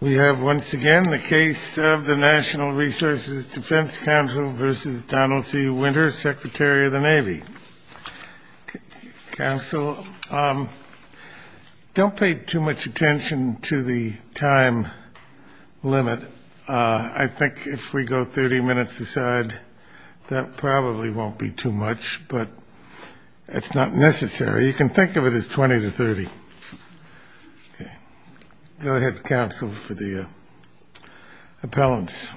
We have, once again, the case of the National Resources Defense Council v. Donald G. Winter, Secretary of the Navy. Council, don't pay too much attention to the time limit. I think if we go 30 minutes aside, that probably won't be too much, but it's not necessary. You can think of it as 20 to 30. Go ahead, Council, for the appellants.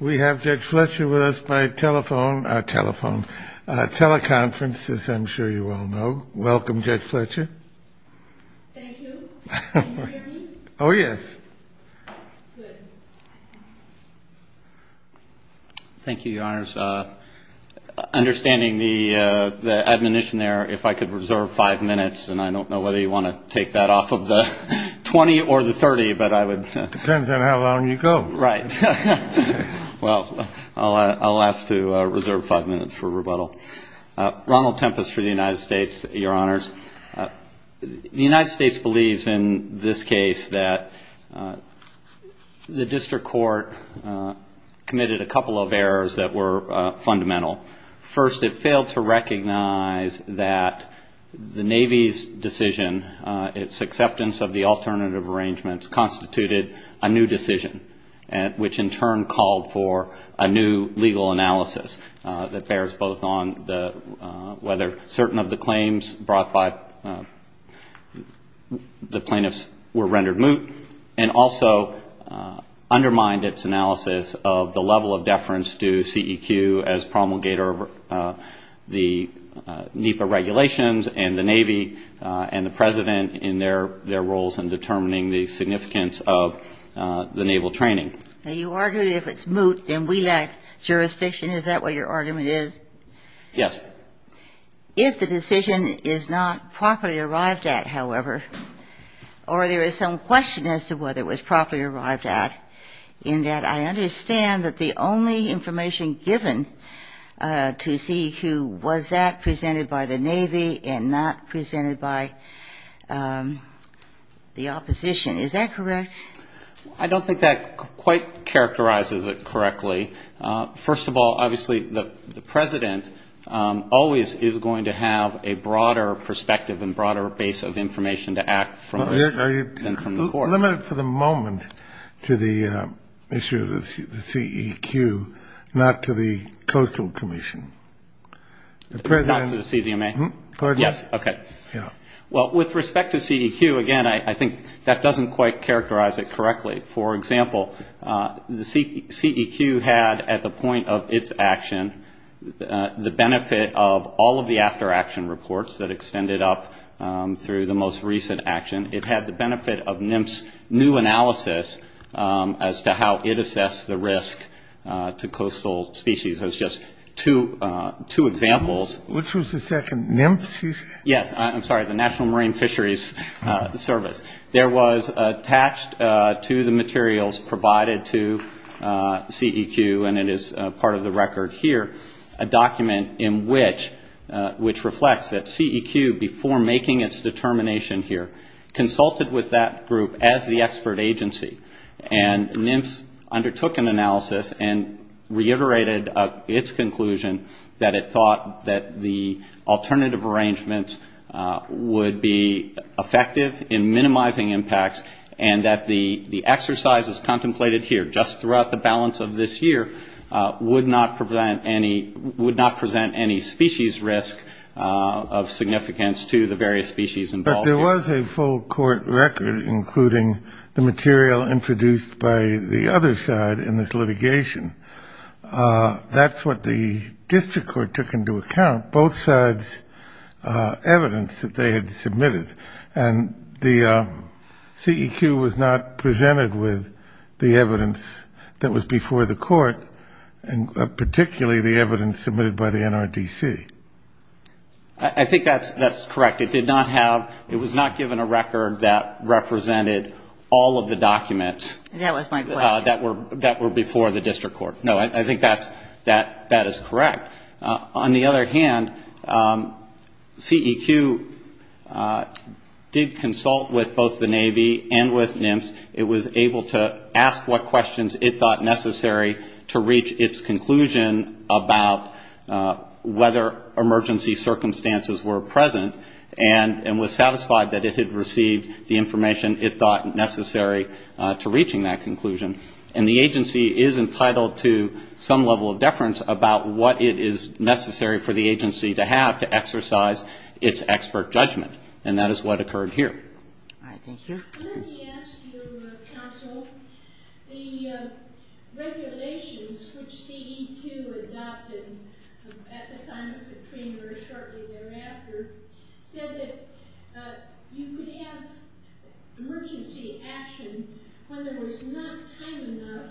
We have Judge Fletcher with us by telephone, teleconference, as I'm sure you all know. Welcome, Judge Fletcher. Thank you. Oh, yes. Thank you, Your Honors. Understanding the admonition there, if I could reserve five minutes, and I don't know whether you want to take that off of the 20 or the 30, but I would. Depends on how long you go. Well, I'll ask to reserve five minutes for rebuttal. Ronald Tempest for the United States, Your Honors. The United States believes in this case that the district court committed a couple of errors that were fundamental. First, it failed to recognize that the Navy's decision, its acceptance of the alternative arrangements, constituted a new decision, which in turn called for a new legal analysis that bears both on whether certain of the claims brought by the plaintiffs were rendered moot and also undermined its analysis of the level of deference to CEQ as promulgator of the NEPA regulations and the Navy and the President in their roles in determining the significance of the Naval training. Now, you argued if it's moot, then we lack jurisdiction. Is that what your argument is? Yes. If the decision is not properly arrived at, however, or there is some question as to whether it was properly arrived at, in that I understand that the only information given to CEQ was that presented by the Navy and not presented by the opposition. Is that correct? I don't think that quite characterizes it correctly. First of all, obviously, the President always is going to have a broader perspective and broader base of information to act from than from the court. I'll limit it for the moment to the issue of the CEQ, not to the Coastal Commission. Not to the CZMA? Yes. Okay. Well, with respect to CEQ, again, I think that doesn't quite characterize it correctly. For example, the CEQ had at the point of its action the benefit of all of the after-action reports that extended up through the most recent action. It had the benefit of NIMS' new analysis as to how it assessed the risk to coastal species. Those are just two examples. Which was the second? NIMS? Yes. I'm sorry, the National Marine Fisheries Service. There was attached to the materials provided to CEQ, and it is part of the record here, a document in which reflects that CEQ, before making its determination here, consulted with that group as the expert agency. And NIMS undertook an analysis and reiterated its conclusion that it thought that the alternative arrangements would be effective in minimizing impacts and that the exercises contemplated here, just throughout the balance of this year, would not present any species risk of significance to the various species involved. But there was a full court record, including the material introduced by the other side in this litigation. That's what the district court took into account, both sides' evidence that they had submitted. And the CEQ was not presented with the evidence that was before the court, and particularly the evidence submitted by the NRDC. I think that's correct. It was not given a record that represented all of the documents that were before the district court. No, I think that is correct. On the other hand, CEQ did consult with both the Navy and with NIMS. It was able to ask what questions it thought necessary to reach its conclusion about whether emergency circumstances were present and was satisfied that it had received the information it thought necessary to reaching that conclusion. And the agency is entitled to some level of deference about what it is necessary for the agency to have to exercise its expert judgment. And that is what occurred here. Let me ask you, counsel, the regulations which CEQ adopted at the time of Katrina or shortly thereafter, said that you could have emergency action when there was not time enough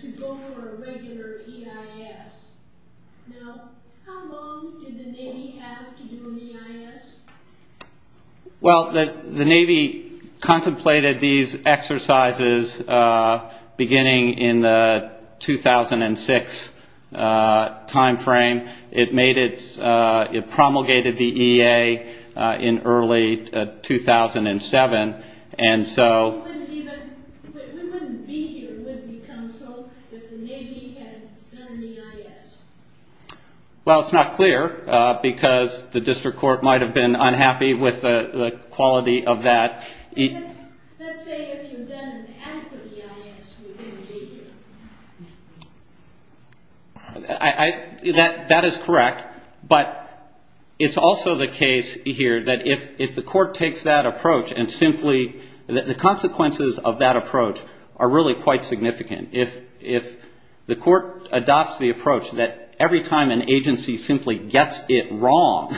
to go for a regular EIS. Now, how long did the Navy have to do an EIS? Well, the Navy contemplated these exercises beginning in the 2006 timeframe. It promulgated the EA in early 2007, and so... But who would be here with you, counsel, if the Navy had done an EIS? Well, it's not clear, because the district court might have been unhappy with the quality of that. Let's say that you then asked the EIS to engage you. That is correct, but it's also the case here that if the court takes that approach and simply... The consequences of that approach are really quite significant. If the court adopts the approach that every time an agency simply gets it wrong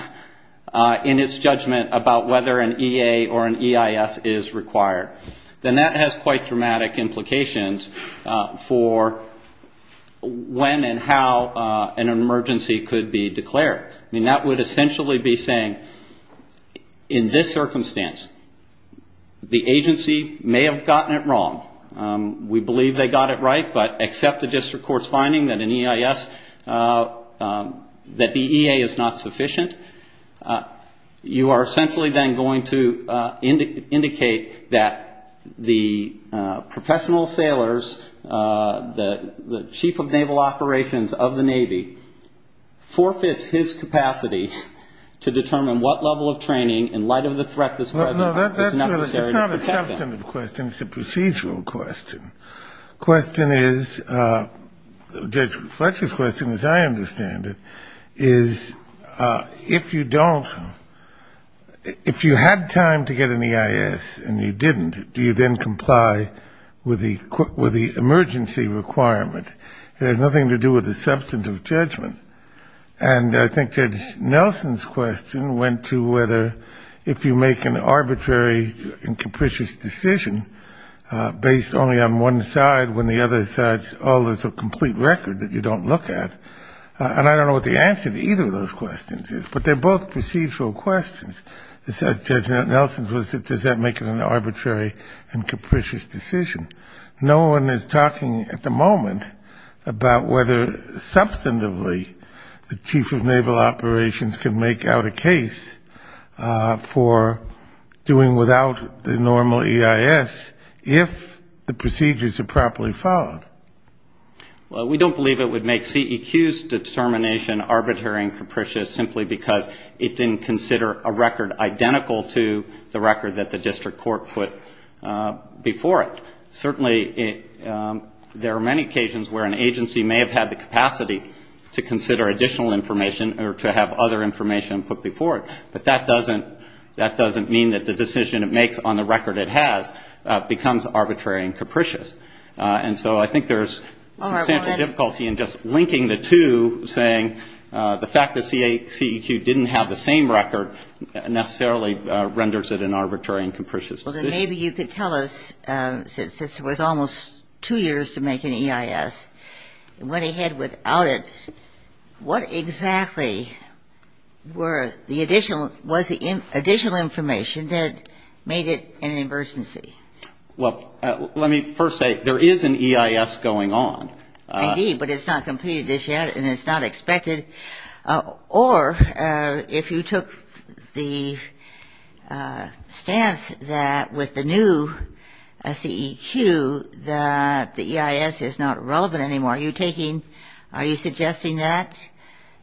in its judgment about whether an EA or an EIS is required, then that has quite dramatic implications for when and how an emergency could be declared. I mean, that would essentially be saying, in this circumstance, the agency may have gotten it wrong. We believe they got it right, but except the district court's finding that an EIS, that the EA is not sufficient, you are essentially then going to indicate that the professional sailors, the chief of naval operations of the Navy, forfeits his capacity to determine what level of training, in light of the threat this president is necessary to protect them. It's not a substantive question, it's a procedural question. The question is, Judge Fletcher's question, as I understand it, is if you don't... If you had time to get an EIS and you didn't, do you then comply with the emergency requirement? It has nothing to do with the substance of judgment. And I think Judge Nelson's question went to whether if you make an arbitrary and capricious decision based only on one side when the other side's always a complete record that you don't look at. And I don't know what the answer to either of those questions is, but they're both procedural questions. Judge Nelson's was, does that make it an arbitrary and capricious decision? No one is talking at the moment about whether substantively the chief of naval operations can make out a case for doing without the normal EIS if the procedures are properly followed. Well, we don't believe it would make CEQ's determination arbitrary and capricious simply because it didn't consider a record identical to the record that the district court put before it. Certainly, there are many occasions where an agency may have had the capacity to consider additional information or to have other information put before it. But that doesn't mean that the decision it makes on the record it has becomes arbitrary and capricious. And so I think there's substantial difficulty in just linking the two, saying the fact that CEQ didn't have the same record necessarily renders it an arbitrary and capricious decision. Well, then maybe you could tell us, since it was almost two years to make an EIS and went ahead without it, what exactly was the additional information that made it an emergency? Well, let me first say, there is an EIS going on. Indeed, but it's not completed just yet and it's not expected. Or if you took the stance that with the new CEQ that the EIS is not relevant anymore, are you suggesting that,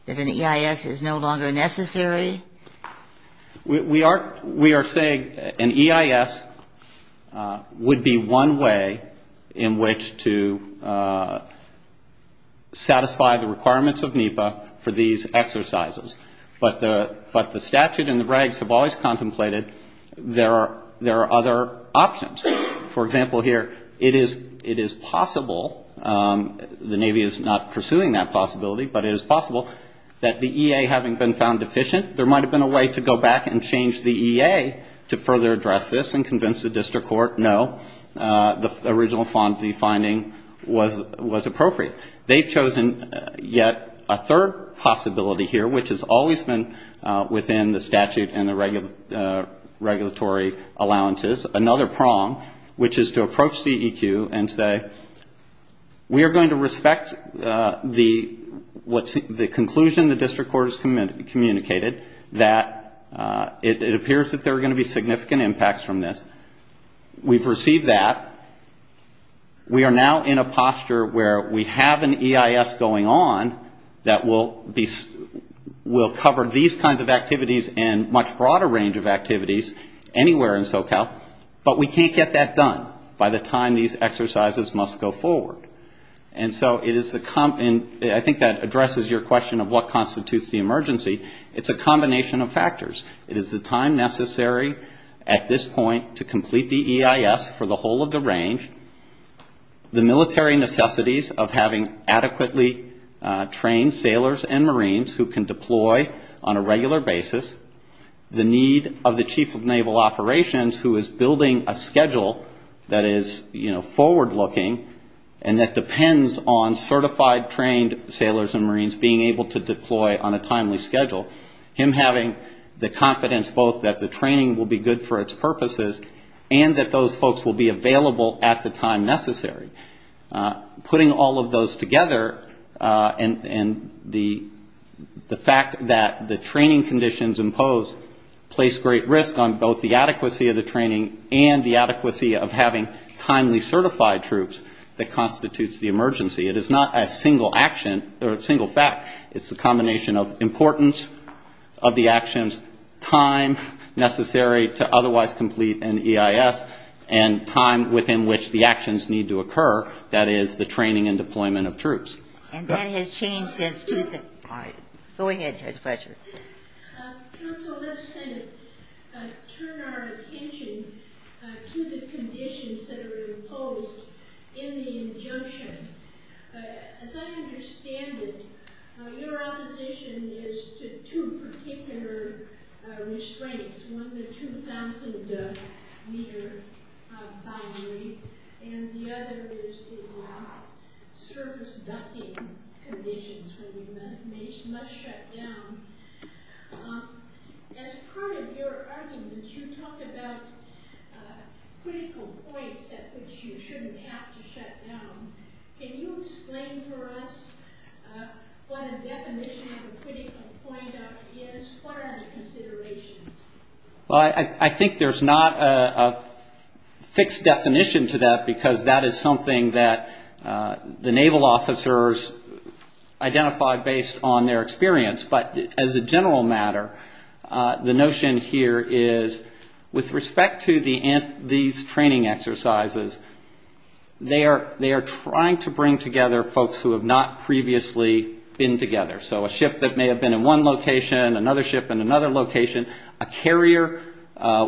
that an EIS is no longer necessary? We are saying an EIS would be one way in which to satisfy the requirements of NEPA for these exercises. But the statute and the regs have always contemplated there are other options. For example here, it is possible, the Navy is not pursuing that possibility, but it is possible that the EA having been found deficient, there might have been a way to go back and change the EA to further address this and convince the district court, no, the original finding was appropriate. They've chosen yet a third possibility here, which has always been within the statute and the regulatory allowances, another prong, which is to approach CEQ and say, we are going to respect the conclusion the district court has communicated, that it appears that there are going to be significant impacts from this. We've received that. We are now in a posture where we have an EIS going on that will cover these kinds of activities and much broader range of activities anywhere in SoCal, but we can't get that done by the time these exercises must go forward. And so I think that addresses your question of what constitutes the emergency. It's a combination of factors. It is the time necessary at this point to complete the EIS for the whole of the range, the military necessities of having adequately trained sailors and Marines who can deploy on a regular basis, the need of the chief of naval operations who is building a schedule that is forward-looking and that depends on certified trained sailors and Marines being able to deploy on a timely schedule, him having the confidence both that the training will be good for its purposes and that those folks will be available at the time necessary. Putting all of those together and the fact that the training conditions imposed place great risk on both the adequacy of the training and the adequacy of having timely certified troops that constitutes the emergency. It is not a single action or a single fact. It's a combination of importance of the actions, time necessary to otherwise complete an EIS, and time within which the actions need to occur, that is, the training and deployment of troops. And that has changed since 2005. Go ahead, Judge Fletcher. So let's turn our attention to the conditions that are imposed in the injunction. As I understand it, your opposition is to two particular restraints. One, the 2,000-meter byway, and the other is the long-service ducting conditions, when the mace must shut down. As part of your argument, you talk about a critical point at which you shouldn't have to shut down. Can you explain to us what a definition of a critical point is as far as consideration? Well, I think there's not a fixed definition to that because that is something that the naval officers identify based on their experience. But as a general matter, the notion here is, with respect to these training exercises, they are trying to bring together folks who have not previously been together. So a ship that may have been in one location, another ship in another location, a carrier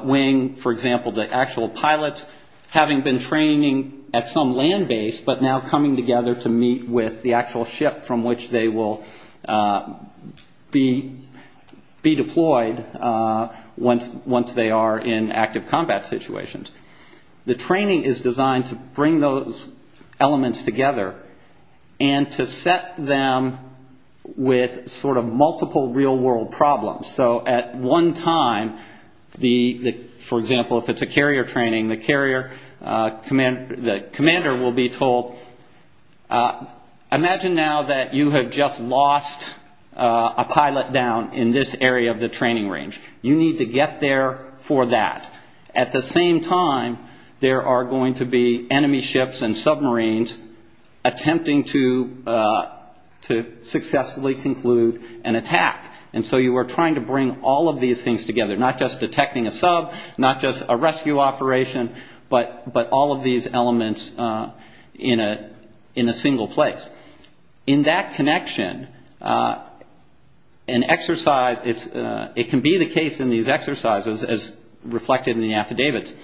wing, for example, the actual pilots having been training at some land base, but now coming together to meet with the actual ship from which they will be deployed once they are in active combat situations. The training is designed to bring those elements together and to set them with sort of multiple real-world problems. So at one time, for example, if it's a carrier training, the carrier commander will be told, imagine now that you have just lost a pilot down in this area of the training range. You need to get there for that. At the same time, there are going to be enemy ships and submarines attempting to successfully conclude an attack. And so you are trying to bring all of these things together, not just detecting a sub, not just a rescue operation, but all of these elements in a single place. In that connection, an exercise, it can be the case in these exercises, as reflected in the affidavits,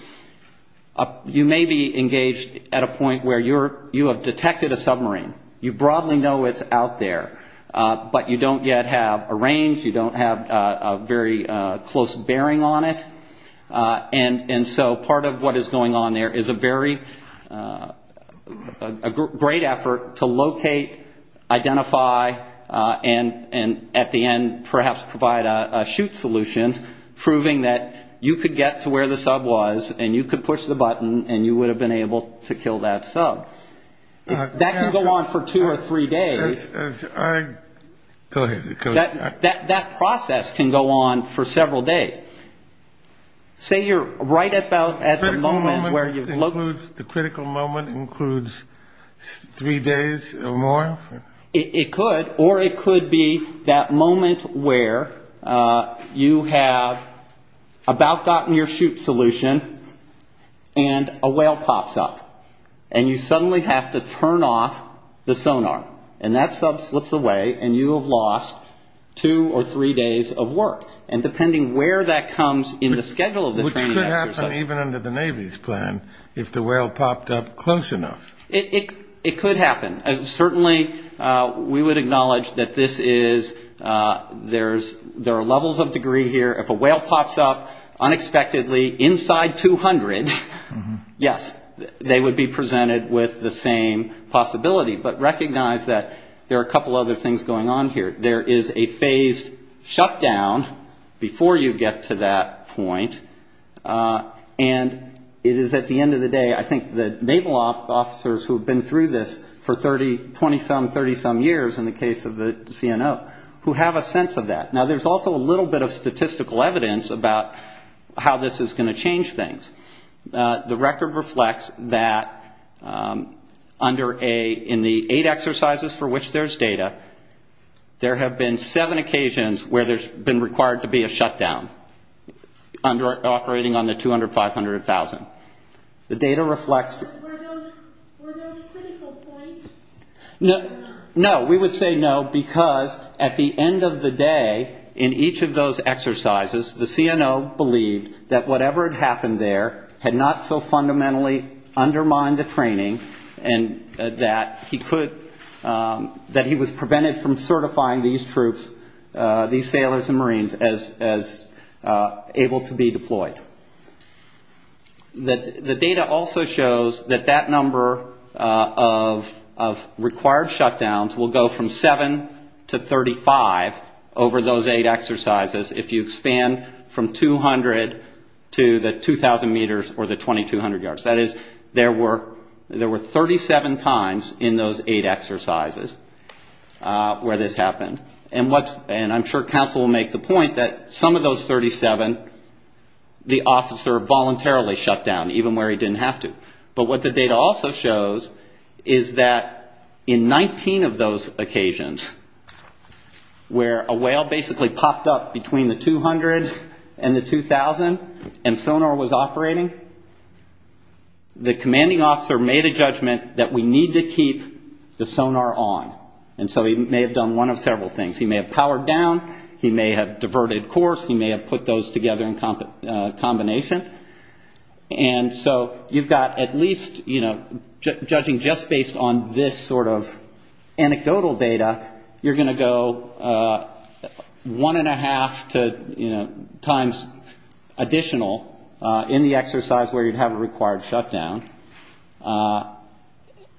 you may be engaged at a point where you have detected a submarine. You broadly know it's out there, but you don't yet have a range, you don't have a very close bearing on it. And so part of what is going on there is a very great effort to locate, identify, and at the end perhaps provide a chute solution, proving that you could get to where the sub was and you could push the button and you would have been able to kill that sub. That can go on for two or three days. Go ahead. That process can go on for several days. Say you're right about at the moment where you've located it. The critical moment includes three days or more? It could, or it could be that moment where you have about gotten your chute solution and a whale pops up and you suddenly have to turn off the sonar. And that sub slips away and you have lost two or three days of work. And depending where that comes in the schedule of the training exercise. Which could happen even under the Navy's plan if the whale popped up close enough. It could happen. Certainly we would acknowledge that this is, there are levels of degree here. If a whale pops up unexpectedly inside 200, yes, they would be presented with the same possibility. But recognize that there are a couple other things going on here. There is a phase shutdown before you get to that point. And it is at the end of the day, I think the Naval officers who have been through this for 20-some, 30-some years in the case of the CNO, who have a sense of that. Now there's also a little bit of statistical evidence about how this is going to change things. The record reflects that in the eight exercises for which there's data, there have been seven occasions where there's been required to be a shutdown operating on the 200, 500, or 1,000. The data reflects... Were those critical points? No, we would say no because at the end of the day in each of those exercises, the CNO believed that whatever had happened there had not so fundamentally undermined the training and that he could, that he was prevented from certifying these troops, these sailors and marines as able to be deployed. The data also shows that that number of required shutdowns will go from seven to 35 over those eight exercises if you expand from 200 to the 2,000 meters or the 2,200 yards. That is, there were 37 times in those eight exercises where this happened. And I'm sure Council will make the point that some of those 37, the officer voluntarily shut down even where he didn't have to. But what the data also shows is that in 19 of those occasions where a whale basically popped up between the 200 and the 2,000 and sonar was operating, the commanding officer made a judgment that we need to keep the sonar on. And so he may have done one of several things. He may have powered down. He may have diverted course. He may have put those together in combination. And so you've got at least, you know, judging just based on this sort of anecdotal data, you're going to go one and a half times additional in the exercise where you have a required shutdown.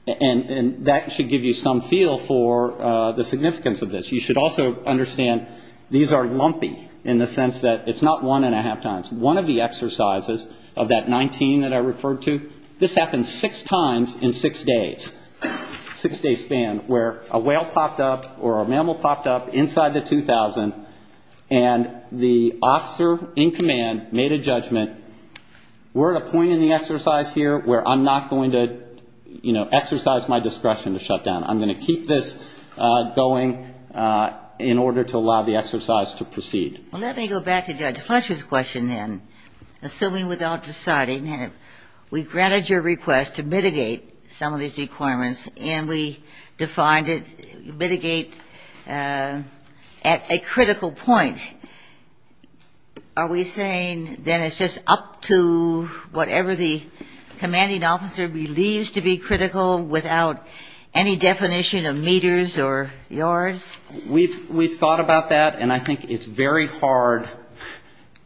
And that should give you some feel for the significance of this. You should also understand these are lumpy in the sense that it's not one and a half times. It's one of the exercises of that 19 that I referred to. This happened six times in six days, six-day span, where a whale popped up or a mammal popped up inside the 2,000 and the officer in command made a judgment, we're at a point in the exercise here where I'm not going to, you know, exercise my discretion to shut down. I'm going to keep this going in order to allow the exercise to proceed. Well, let me go back to Judge Fletcher's question then, assuming without deciding. We've granted your request to mitigate some of these requirements and we defined it mitigate at a critical point. Are we saying then it's just up to whatever the commanding officer believes to be critical without any definition of meters or yards? We've thought about that and I think it's very hard,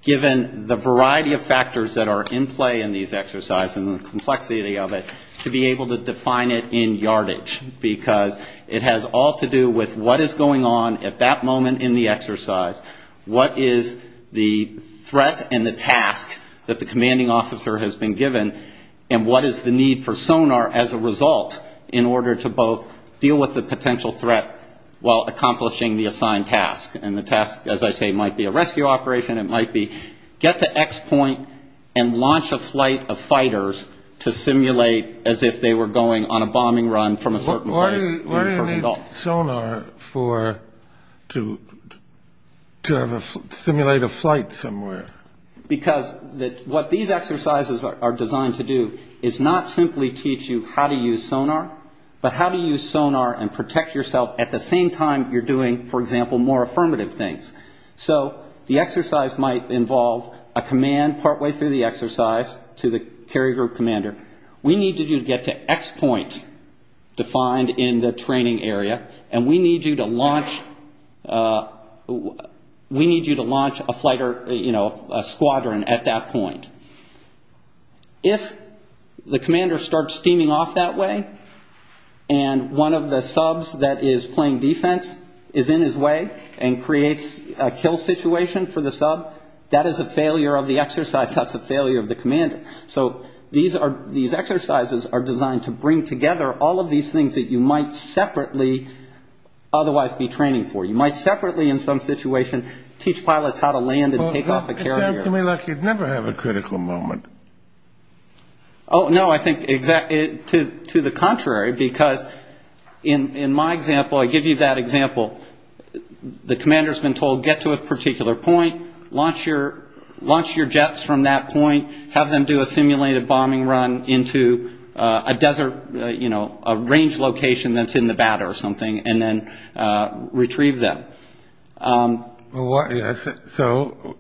given the variety of factors that are in play in these exercises and the complexity of it, to be able to define it in yardage because it has all to do with what is going on at that moment in the exercise, what is the threat and the task that the commanding officer has been given, and what is the need for sonar as a result in order to both deal with the potential threat while accomplishing the assigned task. And the task, as I say, might be a rescue operation, it might be get to X point and launch a flight of fighters to simulate as if they were going on a bombing run from a certain point. Why do you need sonar to simulate a flight somewhere? Because what these exercises are designed to do is not simply teach you how to use sonar, but how do you use sonar and protect yourself at the same time you're doing, for example, more affirmative things. So the exercise might involve a command partway through the exercise to the carry group commander, we need you to get to X point defined in the training area and we need you to launch a squadron at that point. If the commander starts steaming off that way and one of the subs that is playing defense is in his way and creates a kill situation for the sub, that is a failure of the exercise, that's a failure of the commander. So these exercises are designed to bring together all of these things that you might separately otherwise be training for. You might separately in some situation teach pilots how to land and take off a carrier. It sounds to me like you'd never have a critical moment. Oh, no, I think to the contrary, because in my example, I give you that example, the commander has been told get to a particular point, launch your jets from that point, have them do a simulated bombing run into a desert, you know, a range location that's in Nevada or something, and then retrieve them. Yes, so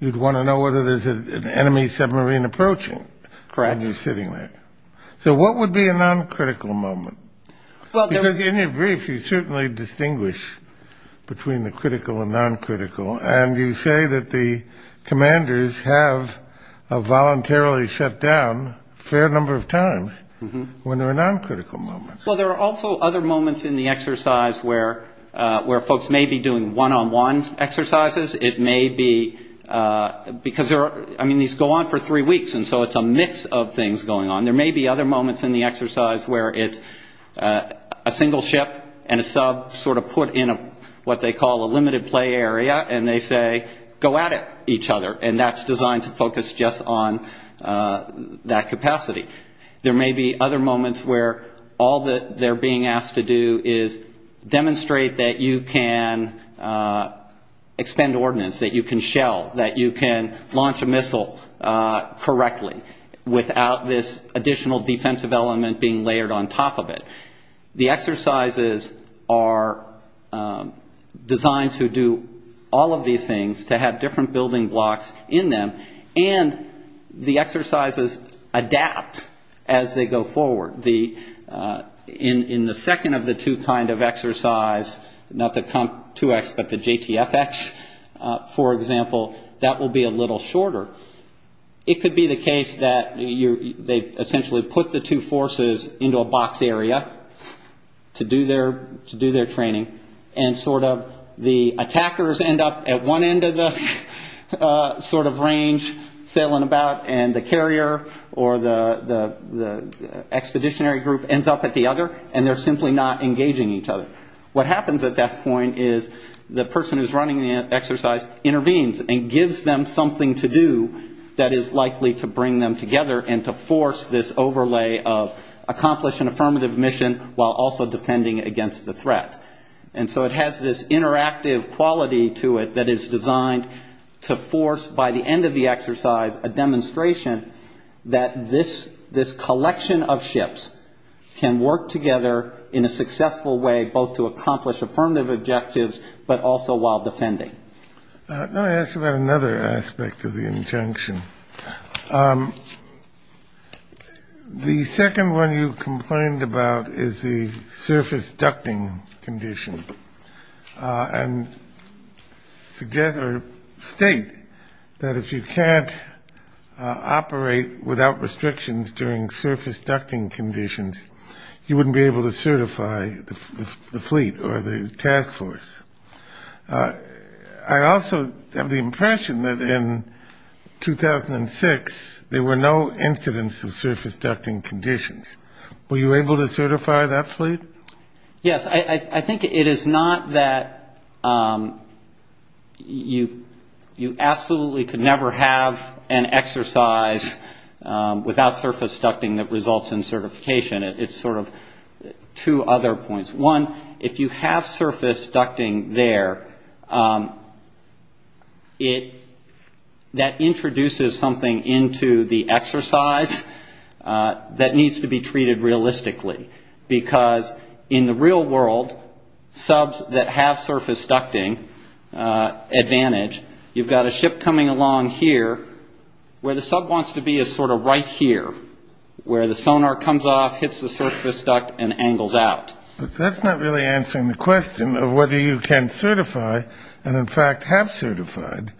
you'd want to know whether there's an enemy submarine approaching. Correct. And he's sitting there. So what would be a non-critical moment? Because in your brief, you certainly distinguish between the critical and non-critical, and you say that the commanders have voluntarily sat down a fair number of times when there are non-critical moments. Well, there are also other moments in the exercise where folks may be doing one-on-one exercises. It may be because there are, I mean, these go on for three weeks, and so it's a mix of things going on. There may be other moments in the exercise where it's a single ship and a sub sort of put in what they call a limited play area, and they say, go at it, each other, and that's designed to focus just on that capacity. There may be other moments where all that they're being asked to do is demonstrate that you can extend ordnance, that you can shell, that you can launch a missile correctly without this additional defensive element being layered on top of it. The exercises are designed to do all of these things, to have different building blocks in them, and the exercises adapt as they go forward. In the second of the two kind of exercise, not the Comp 2X, but the JTFX, for example, that will be a little shorter. It could be the case that they essentially put the two forces into a box area to do their training, and sort of the attackers end up at one end of the sort of range sailing about, and the carrier or the expeditionary group ends up at the other, and they're simply not engaging each other. What happens at that point is the person who's running the exercise intervenes and gives them something to do that is likely to bring them together and to force this overlay of accomplish an affirmative mission while also defending against the threat. And so it has this interactive quality to it that is designed to force by the end of the exercise a demonstration that this collection of ships can work together in a successful way both to accomplish affirmative objectives but also while defending. Let me ask about another aspect of the injunction. The second one you complained about is the surface ducting condition, and together state that if you can't operate without restrictions during surface ducting conditions, you wouldn't be able to certify the fleet or the task force. I also have the impression that in 2006 there were no incidents of surface ducting conditions. Were you able to certify that fleet? Yes. I think it is not that you absolutely could never have an exercise without surface ducting that results in certification. It's sort of two other points. One, if you have surface ducting there, that introduces something into the exercise that needs to be treated realistically because in the real world, subs that have surface ducting advantage, you've got a ship coming along here where the sub wants to be is sort of right here where the sonar comes off, hits the surface duct, and angles out. That's not really answering the question of whether you can certify and in fact have certified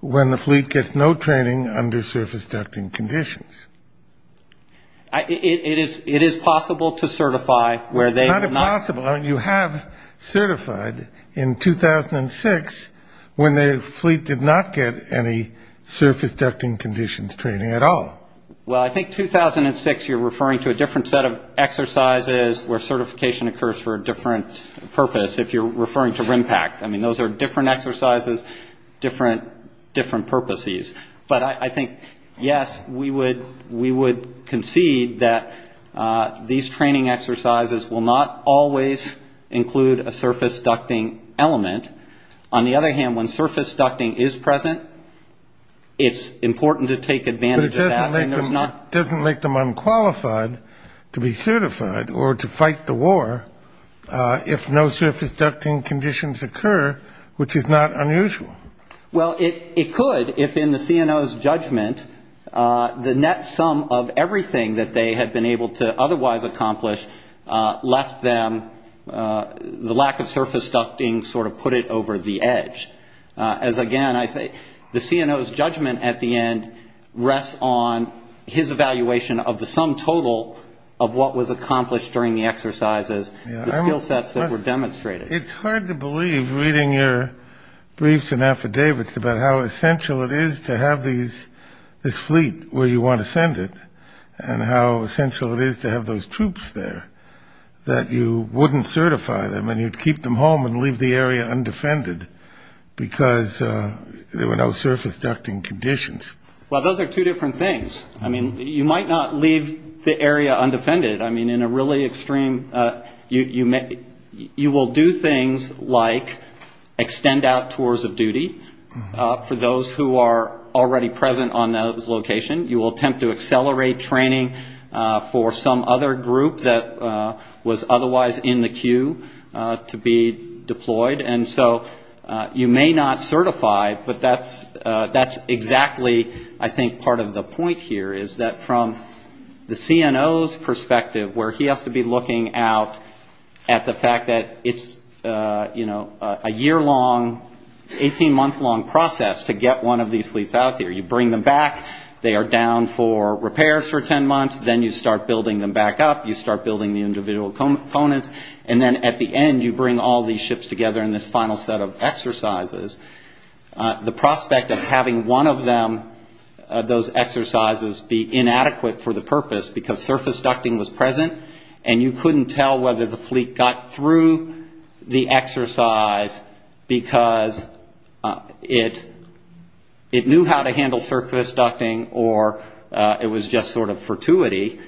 when the fleet gets no training under surface ducting conditions. It is possible to certify where they were not. It's not possible. You have certified in 2006 when the fleet did not get any surface ducting conditions training at all. Well, I think 2006 you're referring to a different set of exercises where certification occurs for a different purpose if you're referring to RIMPAC. I mean, those are different exercises, different purposes. But I think, yes, we would concede that these training exercises will not always include a surface ducting element. On the other hand, when surface ducting is present, it's important to take advantage of that. But it doesn't make them unqualified to be certified or to fight the war if no surface ducting conditions occur, which is not unusual. Well, it could if in the CNO's judgment the net sum of everything that they had been able to otherwise accomplish left them the lack of surface ducting sort of put it over the edge. As, again, I say the CNO's judgment at the end rests on his evaluation of the sum total of what was accomplished during the exercises, the skill sets that were demonstrated. It's hard to believe, reading your briefs and affidavits, about how essential it is to have this fleet where you want to send it and how essential it is to have those troops there that you wouldn't certify them and you'd keep them home and leave the area undefended because there were no surface ducting conditions. Well, those are two different things. I mean, you might not leave the area undefended. I mean, in a really extreme, you will do things like extend out tours of duty for those who are already present on that location. You will attempt to accelerate training for some other group that was otherwise in the queue to be deployed. And so you may not certify, but that's exactly, I think, part of the point here, is that from the CNO's perspective where he has to be looking out at the fact that it's, you know, a year-long, 18-month-long process to get one of these fleets out there. You bring them back. They are down for repairs for 10 months. Then you start building them back up. You start building the individual components. And then at the end, you bring all these ships together in this final set of exercises. The prospect of having one of them, those exercises, be inadequate for the purpose because surface ducting was present and you couldn't tell whether the fleet got through the exercise because it knew how to handle surface ducting or it was just sort of fortuity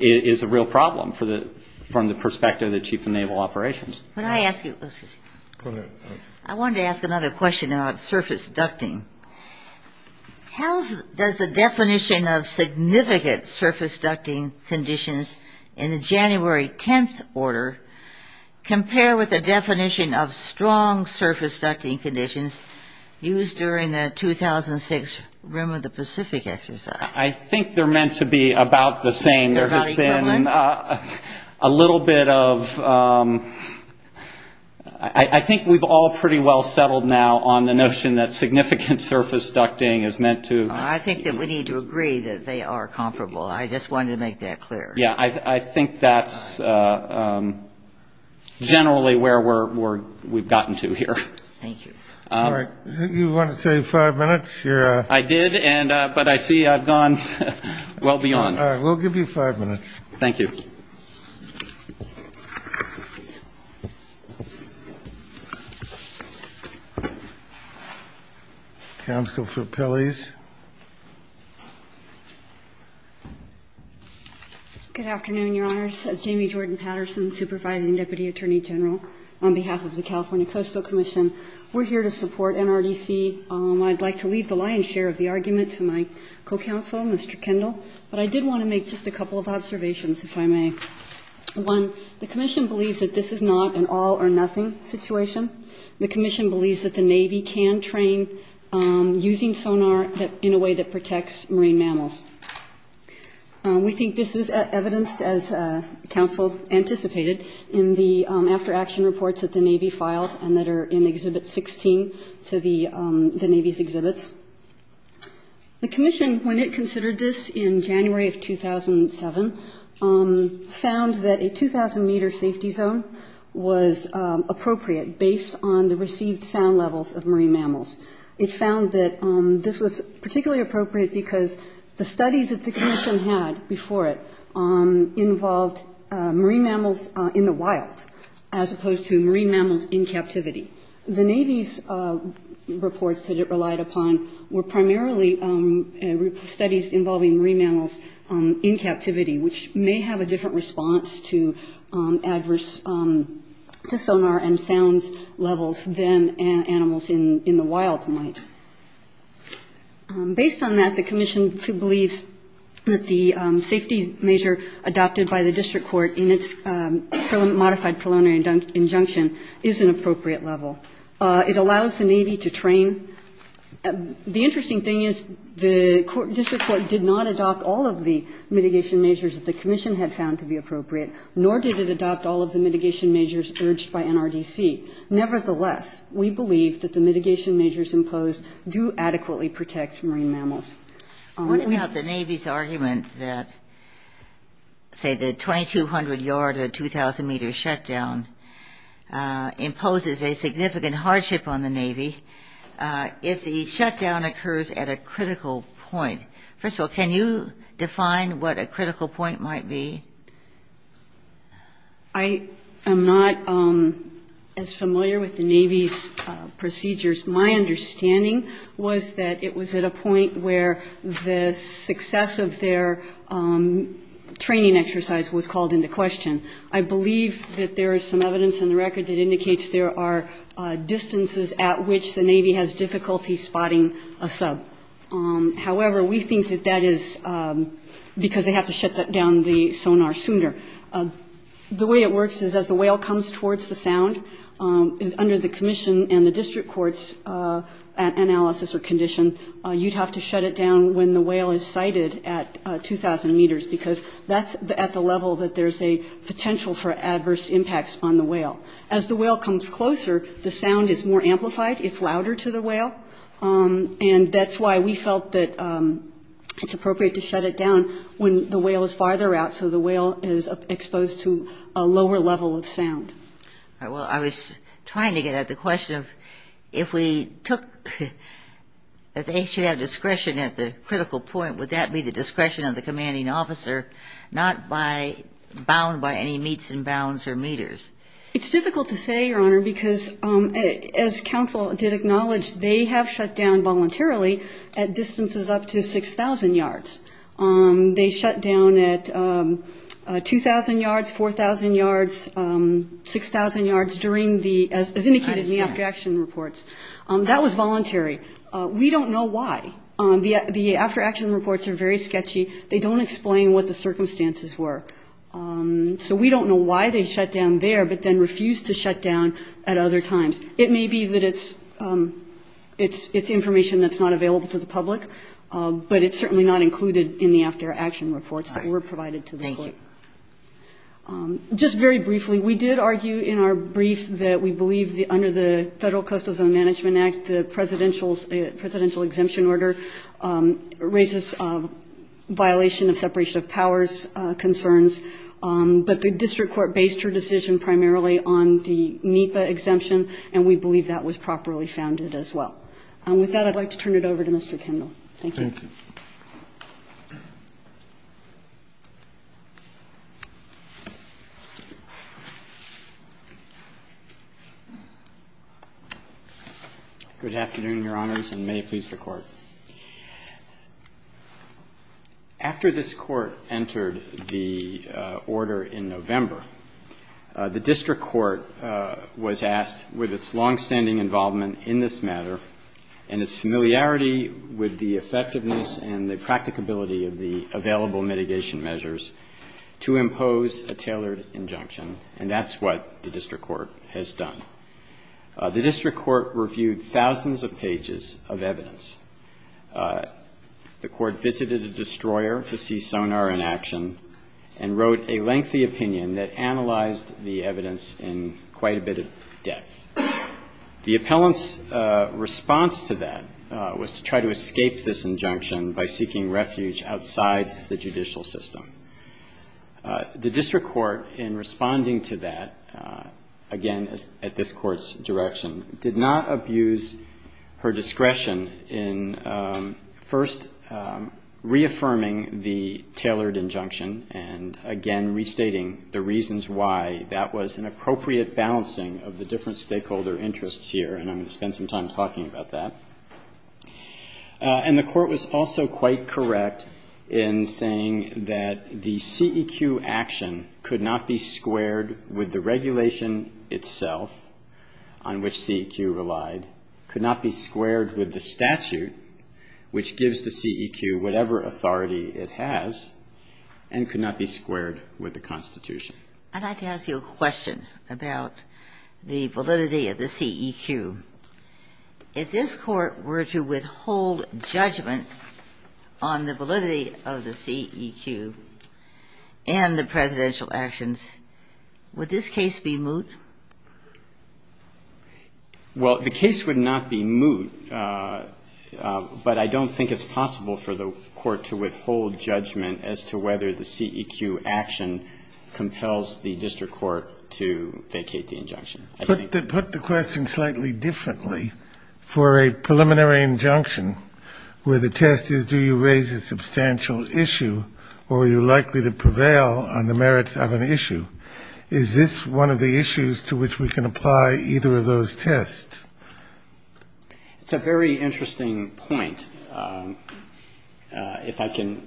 is a real problem from the perspective of the Chief of Naval Operations. Can I ask you a question? Go ahead. I wanted to ask another question about surface ducting. How does the definition of significant surface ducting conditions in the January 10th order compare with the definition of strong surface ducting conditions used during the 2006 Rim of the Pacific exercise? I think they're meant to be about the same. A little bit of ‑‑ I think we've all pretty well settled now on the notion that significant surface ducting is meant to ‑‑ I think that we need to agree that they are comparable. I just wanted to make that clear. Yeah, I think that's generally where we've gotten to here. Thank you. All right. You wanted to say five minutes? I did, but I see I've gone well beyond. All right. We'll give you five minutes. Thank you. Counsel for Pelley's. Good afternoon, Your Honors. I'm Jamie Jordan Patterson, Supervising Deputy Attorney General on behalf of the California Coastal Commission. We're here to support NRDC. I'd like to leave the lion's share of the argument to my co‑counsel, Mr. Kendall, but I did want to make just a couple of observations, if I may. One, the commission believes that this is not an all or nothing situation. The commission believes that the Navy can train using sonar in a way that protects marine mammals. We think this is evidenced, as counsel anticipated, in the after‑action reports that the Navy filed and that are in Exhibit 16 to the Navy's exhibits. The commission, when it considered this in January of 2007, found that a 2,000‑meter safety zone was appropriate based on the received sound levels of marine mammals. It found that this was particularly appropriate because the studies that the commission had before it involved marine mammals in the wild as opposed to marine mammals in captivity. The Navy's reports that it relied upon were primarily studies involving marine mammals in captivity, which may have a different response to adverse sonar and sound levels than animals in the wild might. Based on that, the commission believes that the safety measure adopted by the district court in its modified colonial injunction is an appropriate level. It allows the Navy to train. The interesting thing is the district court did not adopt all of the mitigation measures that the commission had found to be appropriate, nor did it adopt all of the mitigation measures urged by NRDC. Nevertheless, we believe that the mitigation measures imposed do adequately protect marine mammals. I wonder about the Navy's argument that, say, the 2,200‑yard or 2,000‑meter shutdown imposes a significant hardship on the Navy if the shutdown occurs at a critical point. First of all, can you define what a critical point might be? I am not as familiar with the Navy's procedures. My understanding was that it was at a point where the success of their training exercise was called into question. I believe that there is some evidence in the record that indicates there are distances at which the Navy has difficulty spotting a sub. However, we think that that is because they have to shut down the sonar sooner. The way it works is as the whale comes towards the sound, under the commission and the district court's analysis or condition, you would have to shut it down when the whale is sighted at 2,000 meters because that is at the level that there is a potential for adverse impacts on the whale. As the whale comes closer, the sound is more amplified. It is louder to the whale. That is why we felt that it is appropriate to shut it down when the whale is farther out so the whale is exposed to a lower level of sound. I was trying to get at the question of if we took that they should have discretion at the critical point, would that be the discretion of the commanding officer, not bound by any meets and bounds or meters? It is difficult to say, Your Honor, because as COUNCIL did acknowledge, they have shut down voluntarily at distances up to 6,000 yards. They shut down at 2,000 yards, 4,000 yards, 6,000 yards as indicated in the after-action reports. That was voluntary. We don't know why. The after-action reports are very sketchy. They don't explain what the circumstances were. We don't know why they shut down there but then refused to shut down at other times. It may be that it is information that is not available to the public, but it is certainly not included in the after-action reports that were provided to the court. Thank you. Just very briefly, we did argue in our brief that we believe under the Federal Coastal Zone Management Act the presidential exemption order raises violation of separation of powers concerns, but the district court based her decision primarily on the NEPA exemption, and we believe that was properly founded as well. With that, I'd like to turn it over to Mr. Kendall. Thank you. Thank you. Good afternoon, Your Honors, and may it please the Court. After this Court entered the order in November, the district court was asked with its longstanding involvement in this matter and its familiarity with the effectiveness and the practicability of the available mitigation measures to impose a tailored injunction, and that's what the district court has done. The district court reviewed thousands of pages of evidence. The court visited a destroyer to see sonar in action and wrote a lengthy opinion that analyzed the evidence in quite a bit of depth. The appellant's response to that was to try to escape this injunction by seeking refuge outside the judicial system. The district court, in responding to that, again at this Court's direction, did not abuse her discretion in first reaffirming the tailored injunction and again restating the reasons why that was an appropriate balancing of the different stakeholder interests here, and I'm going to spend some time talking about that. And the Court was also quite correct in saying that the CEQ action could not be squared with the regulation itself on which CEQ relied, could not be squared with the statute, which gives the CEQ whatever authority it has, and could not be squared with the Constitution. I'd like to ask you a question about the validity of the CEQ. If this Court were to withhold judgment on the validity of the CEQ and the presidential actions, would this case be moot? Well, the case would not be moot, but I don't think it's possible for the Court to withhold judgment as to whether the CEQ action compels the district court to vacate the injunction. Put the question slightly differently. For a preliminary injunction where the test is do you raise a substantial issue or are you likely to prevail on the merits of an issue? Is this one of the issues to which we can apply either of those tests? It's a very interesting point. If I can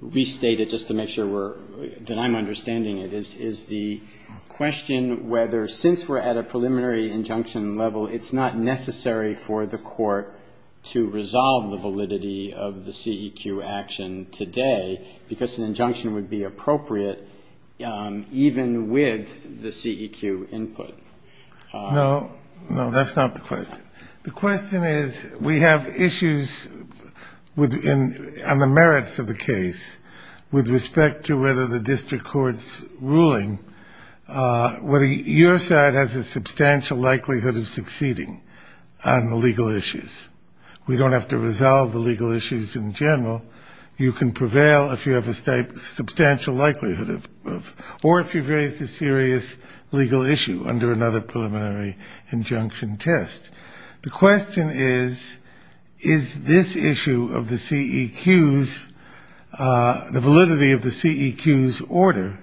restate it just to make sure that I'm understanding it, is the question whether since we're at a preliminary injunction level, it's not necessary for the Court to resolve the validity of the CEQ action today because an injunction would be appropriate even with the CEQ input? No, that's not the question. The question is we have issues on the merits of the case whether your side has a substantial likelihood of succeeding on the legal issues. We don't have to resolve the legal issues in general. You can prevail if you have a substantial likelihood of or if you've raised a serious legal issue under another preliminary injunction test. The question is, is this issue of the CEQ's, the validity of the CEQ's order,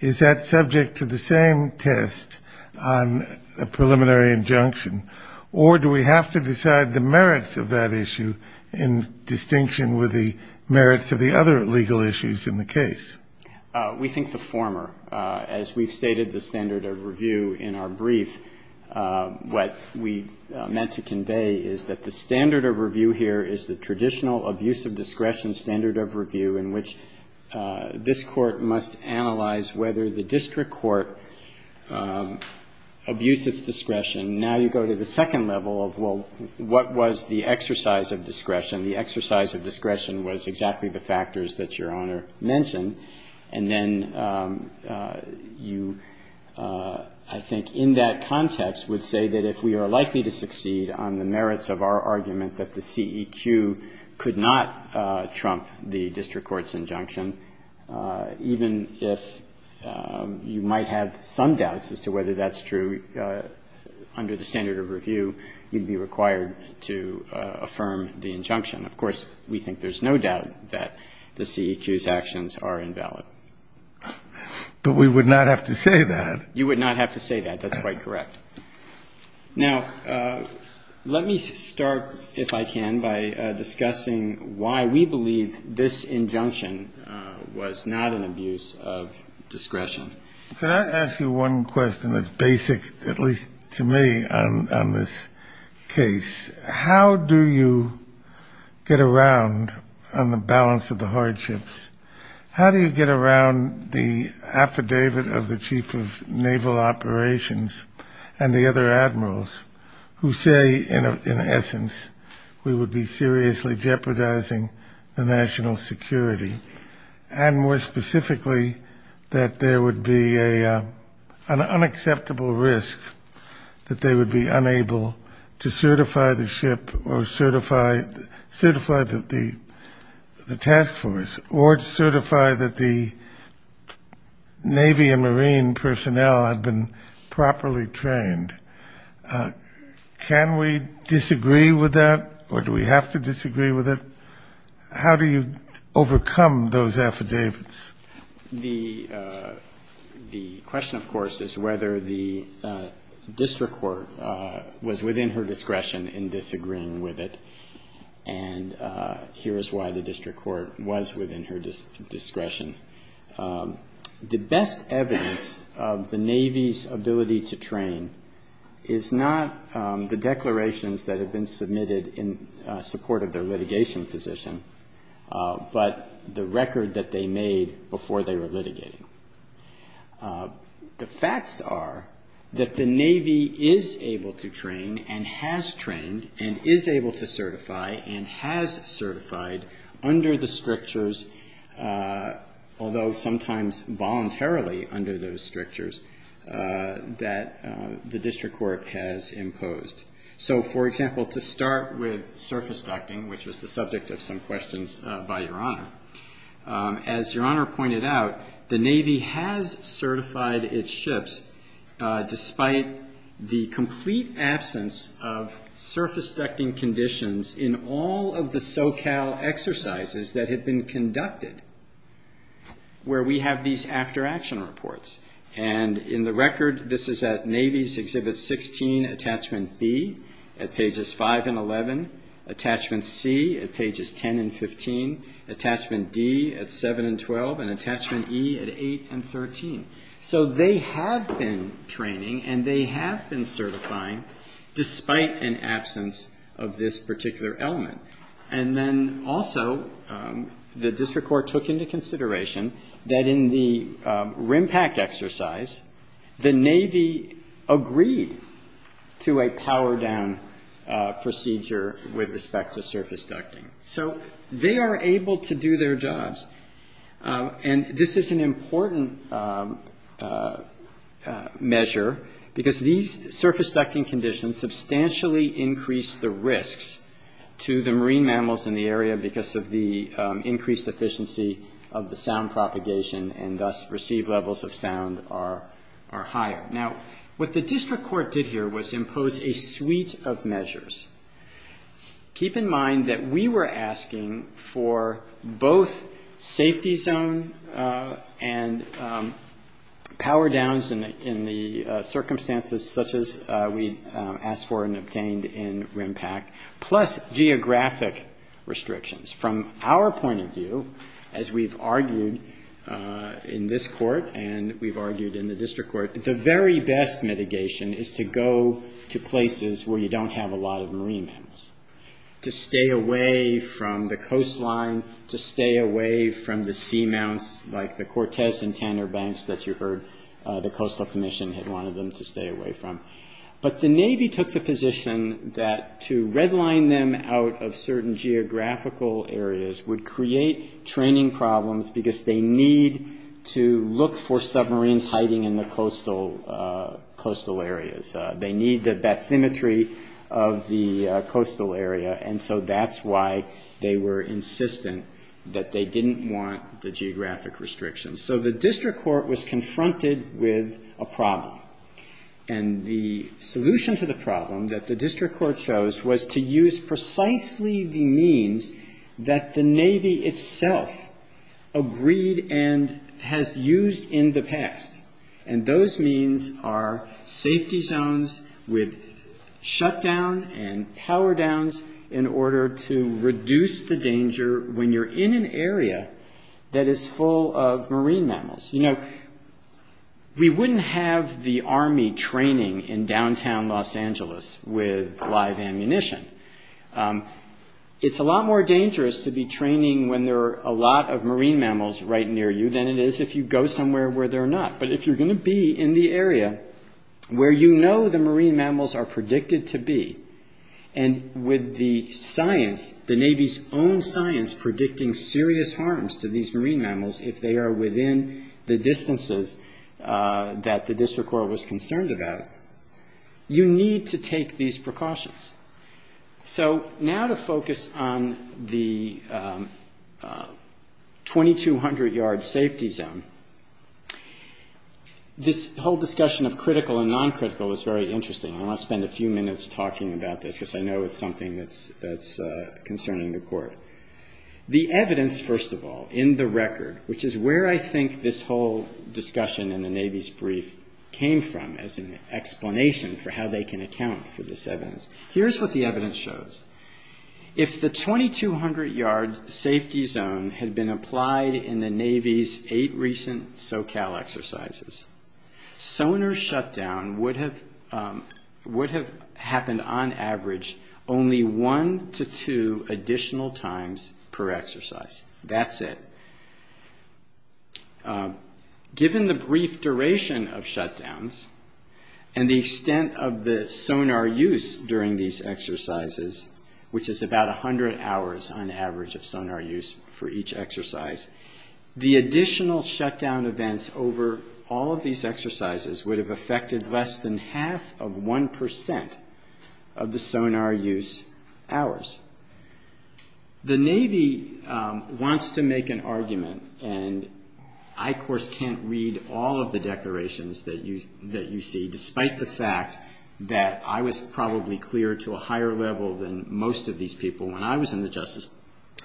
is that subject to the same test on a preliminary injunction or do we have to decide the merits of that issue in distinction with the merits of the other legal issues in the case? We think the former. As we've stated the standard of review in our brief, what we meant to convey is that the standard of review here is the traditional abuse of discretion standard of review in which this court must analyze whether the district court abused its discretion. Now you go to the second level of, well, what was the exercise of discretion? The exercise of discretion was exactly the factors that Your Honor mentioned. And then you, I think, in that context, would say that if we are likely to succeed on the merits of our argument that the CEQ could not trump the district court's injunction, even if you might have some doubts as to whether that's true under the standard of review, you'd be required to affirm the injunction. Of course, we think there's no doubt that the CEQ's actions are invalid. But we would not have to say that. You would not have to say that. That's quite correct. Now, let me start, if I can, by discussing why we believe this injunction was not an abuse of discretion. Can I ask you one question that's basic, at least to me, on this case? How do you get around on the balance of the hardships? How do you get around the affidavit of the chief of naval operations and the other admirals who say, in essence, we would be seriously jeopardizing the national security, and more specifically, that there would be an unacceptable risk that they would be unable to certify the ship or certify the task force or certify that the Navy and Marine personnel have been properly trained? Can we disagree with that, or do we have to disagree with it? How do you overcome those affidavits? The question, of course, is whether the district court was within her discretion in disagreeing with it, and here's why the district court was within her discretion. The best evidence of the Navy's ability to train is not the declarations that have been submitted in support of their litigation position, but the record that they made before they were litigated. The facts are that the Navy is able to train and has trained and is able to certify and has certified under the strictures, although sometimes voluntarily under those strictures, that the district court has imposed. So, for example, to start with surface ducting, which is the subject of some questions by Your Honor, as Your Honor pointed out, the Navy has certified its ships despite the complete absence of surface ducting conditions in all of the SoCal exercises that had been conducted where we have these after-action reports. And in the record, this is at Navy's Exhibit 16, Attachment B at Pages 5 and 11, Attachment C at Pages 10 and 15, Attachment D at 7 and 12, and Attachment E at 8 and 13. So they have been training and they have been certifying despite an absence of this particular element. And then also, the district court took into consideration that in the RIMPAC exercise, the Navy agreed to a power-down procedure with respect to surface ducting. So they are able to do their jobs. And this is an important measure because these surface ducting conditions substantially increase the risks to the marine mammals in the area because of the increased efficiency of the sound propagation and thus received levels of sound are higher. Now, what the district court did here was impose a suite of measures. Keep in mind that we were asking for both safety zone and power-downs in the circumstances such as we asked for and obtained in RIMPAC, plus geographic restrictions. From our point of view, as we've argued in this court and we've argued in the district court, the very best mitigation is to go to places where you don't have a lot of marine mammals, to stay away from the coastline, to stay away from the seamounts like the Cortez and Tanner Banks that you heard the Coastal Commission had wanted them to stay away from. But the Navy took the position that to redline them out of certain geographical areas would create training problems because they need to look for submarines hiding in the coastal areas. They need that symmetry of the coastal area and so that's why they were insistent that they didn't want the geographic restrictions. So the district court was confronted with a problem. And the solution to the problem that the district court chose was to use precisely the means that the Navy itself agreed and has used in the past. And those means are safety zones with shutdown and power-downs in order to reduce the danger when you're in an area that is full of marine mammals. You know, we wouldn't have the Army training in downtown Los Angeles with live ammunition. It's a lot more dangerous to be training when there are a lot of marine mammals right near you than it is if you go somewhere where there are not. But if you're going to be in the area where you know the marine mammals are predicted to be and with the science, the Navy's own science predicting serious harms to these marine mammals if they are within the distances that the district court was concerned about, you need to take these precautions. So now to focus on the 2200-yard safety zone, this whole discussion of critical and non-critical is very interesting. I want to spend a few minutes talking about this because I know it's something that's concerning the court. The evidence, first of all, in the record, which is where I think this whole discussion in the Navy's brief came from as an explanation for how they can account for this evidence. Here's what the evidence shows. If the 2200-yard safety zone had been applied in the Navy's eight recent SoCal exercises, sonar shutdown would have happened on average only one to two additional times per exercise. That's it. Given the brief duration of shutdowns and the extent of the sonar use during these exercises, which is about 100 hours on average of sonar use for each exercise, the additional shutdown events over all of these exercises would have affected less than half of 1% of the sonar use hours. The Navy wants to make an argument, and I, of course, can't read all of the declarations that you see, despite the fact that I was probably cleared to a higher level than most of these people when I was in the Justice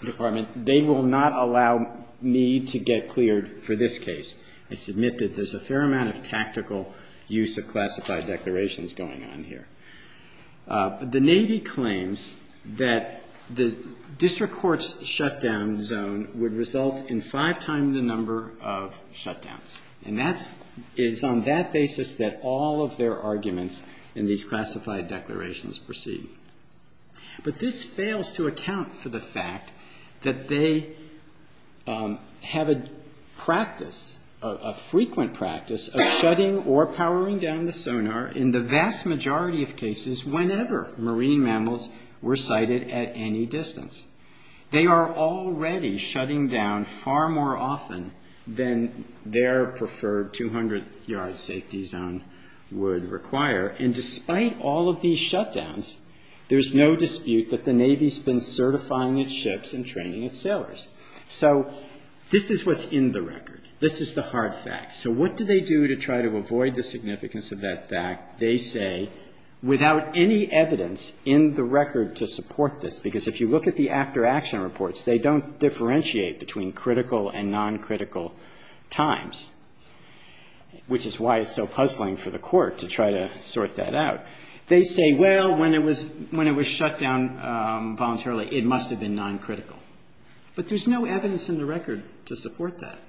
Department. They will not allow me to get cleared for this case. I submit that there's a fair amount of tactical use of classified declarations going on here. The Navy claims that the district court's shutdown zone would result in five times the number of shutdowns, and that is on that basis that all of their arguments in these classified declarations proceed. But this fails to account for the fact that they have a practice, a frequent practice of shutting or powering down the sonar in the vast majority of cases whenever marine mammals were sighted at any distance. They are already shutting down far more often than their preferred 200-yard safety zone would require, and despite all of these shutdowns, there's no dispute that the Navy's been certifying its ships and training its sailors. So this is what's in the record. This is the hard fact. So what do they do to try to avoid the significance of that fact? They say, without any evidence in the record to support this, because if you look at the after-action reports, they don't differentiate between critical and non-critical times, which is why it's so puzzling for the court to try to sort that out. They say, well, when it was shut down voluntarily, it must have been non-critical. But there's no evidence in the record to support that.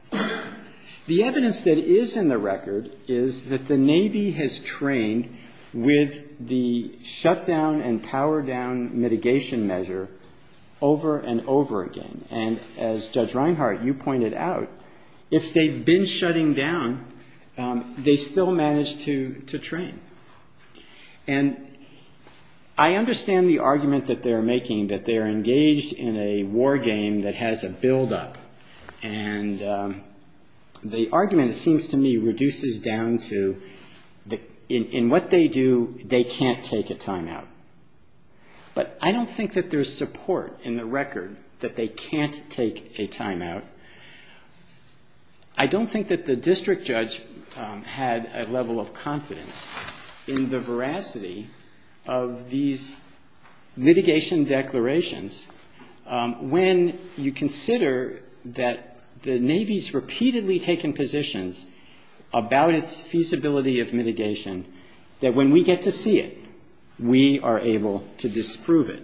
The evidence that is in the record is that the Navy has trained with the shutdown and power-down mitigation measure over and over again, and as Judge Reinhart, you pointed out, if they'd been shutting down, they still managed to train. And I understand the argument that they're making, that they're engaged in a war game that has a build-up, and the argument, it seems to me, reduces down to in what they do, they can't take a time-out. But I don't think that there's support in the record that they can't take a time-out. I don't think that the district judge had a level of confidence in the veracity of these mitigation declarations. When you consider that the Navy has repeatedly taken positions about its feasibility of mitigation, that when we get to see it, we are able to disprove it.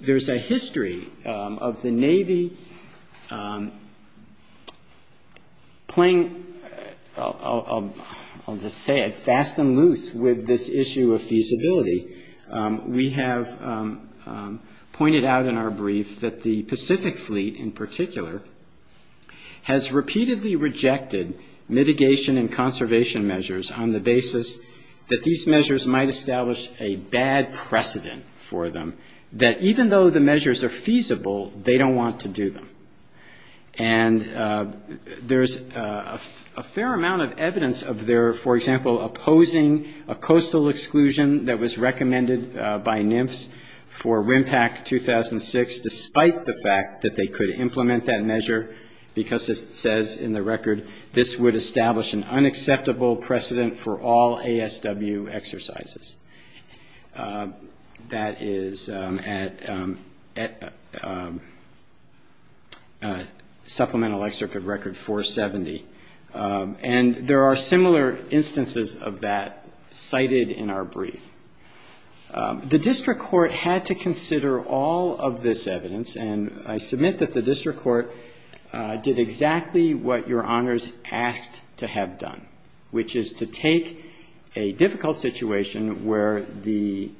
There's a history of the Navy playing, I'll just say it, fast and loose with this issue of feasibility. We have pointed out in our brief that the Pacific Fleet in particular has repeatedly rejected mitigation and conservation measures on the basis that these measures might establish a bad precedent for them, that even though the measures are feasible, they don't want to do them. And there's a fair amount of evidence of their, for example, opposing a coastal exclusion that was recommended by NIMFS for RIMPAC 2006, despite the fact that they could implement that measure, because it says in the record this would establish an unacceptable precedent for all ASW exercises. That is at Supplemental Excerpt of Record 470. And there are similar instances of that cited in our brief. The district court had to consider all of this evidence, and I submit that the district court did exactly what your honors asked to have done, which is to take a difficult situation where the